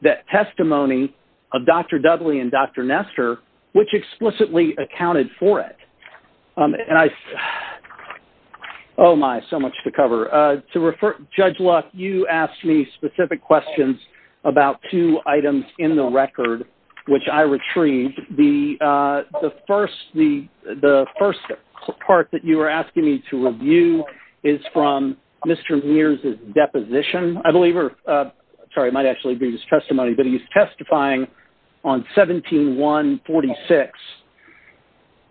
that testimony of dr. Dudley and dr. Nestor which explicitly accounted for it and I oh my so much to cover to refer judge luck you asked me specific questions about two items in the record which I retrieved the the first the the first part that you were asking me to review is from mr. Mears is deposition I believe her sorry might actually be his testimony but he's testifying on 17 146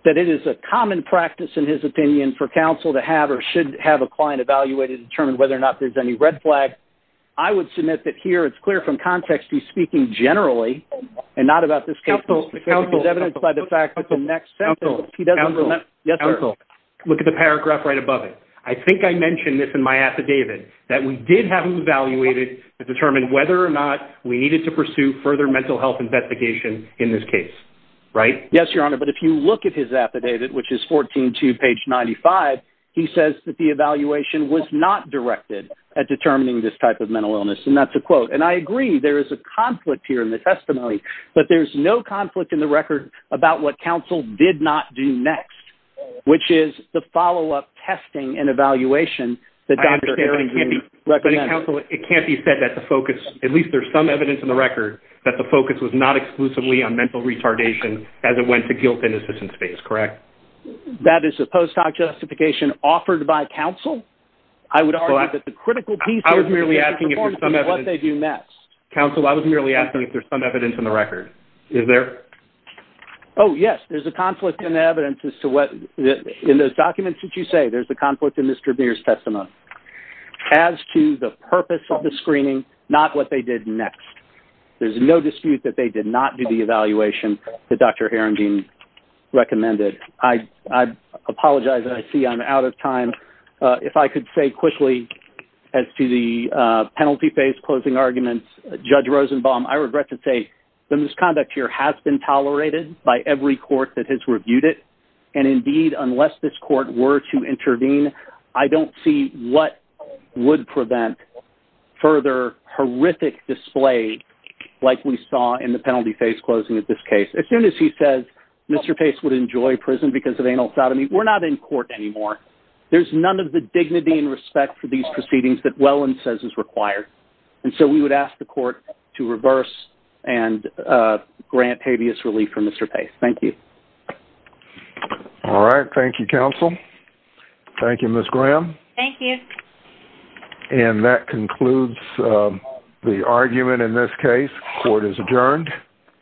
that it is a common practice in his opinion for counsel to have or should have a client evaluated determine whether or not there's any red flag I would submit that here it's clear from context he's speaking generally and not about this council evidence by the fact that the next sample he doesn't know that yes uncle look at the paragraph right above it I think I mentioned this in my or not we needed to pursue further mental health investigation in this case right yes your honor but if you look at his affidavit which is 14 to page 95 he says that the evaluation was not directed at determining this type of mental illness and that's a quote and I agree there is a conflict here in the testimony but there's no conflict in the record about what counsel did not do next which is the follow-up testing and evaluation the doctor it can't be said that the focus at least there's some evidence in the record that the focus was not exclusively on mental retardation as it went to guilt in assistance space correct that is a post hoc justification offered by counsel I would argue that the critical piece I was merely asking you some of what they do next counsel I was merely asking if there's some evidence in the record is there oh yes there's a conflict in evidence as to what in those documents that you say there's a conflict in mr. beers testimony as to the purpose of the screening not what they did next there's no dispute that they did not do the evaluation the dr. Aaron Dean recommended I apologize and I see I'm out of time if I could say quickly as to the penalty phase closing arguments judge Rosenbaum I regret to say the misconduct here has been tolerated by every court that has reviewed it and indeed unless this court were to horrific display like we saw in the penalty phase closing at this case as soon as he says mr. pace would enjoy prison because of anal sodomy we're not in court anymore there's none of the dignity and respect for these proceedings that well and says is required and so we would ask the court to reverse and grant habeas relief for mr. pace thank you all right thank you counsel thank you miss Graham thank you and that concludes the argument in this case court is adjourned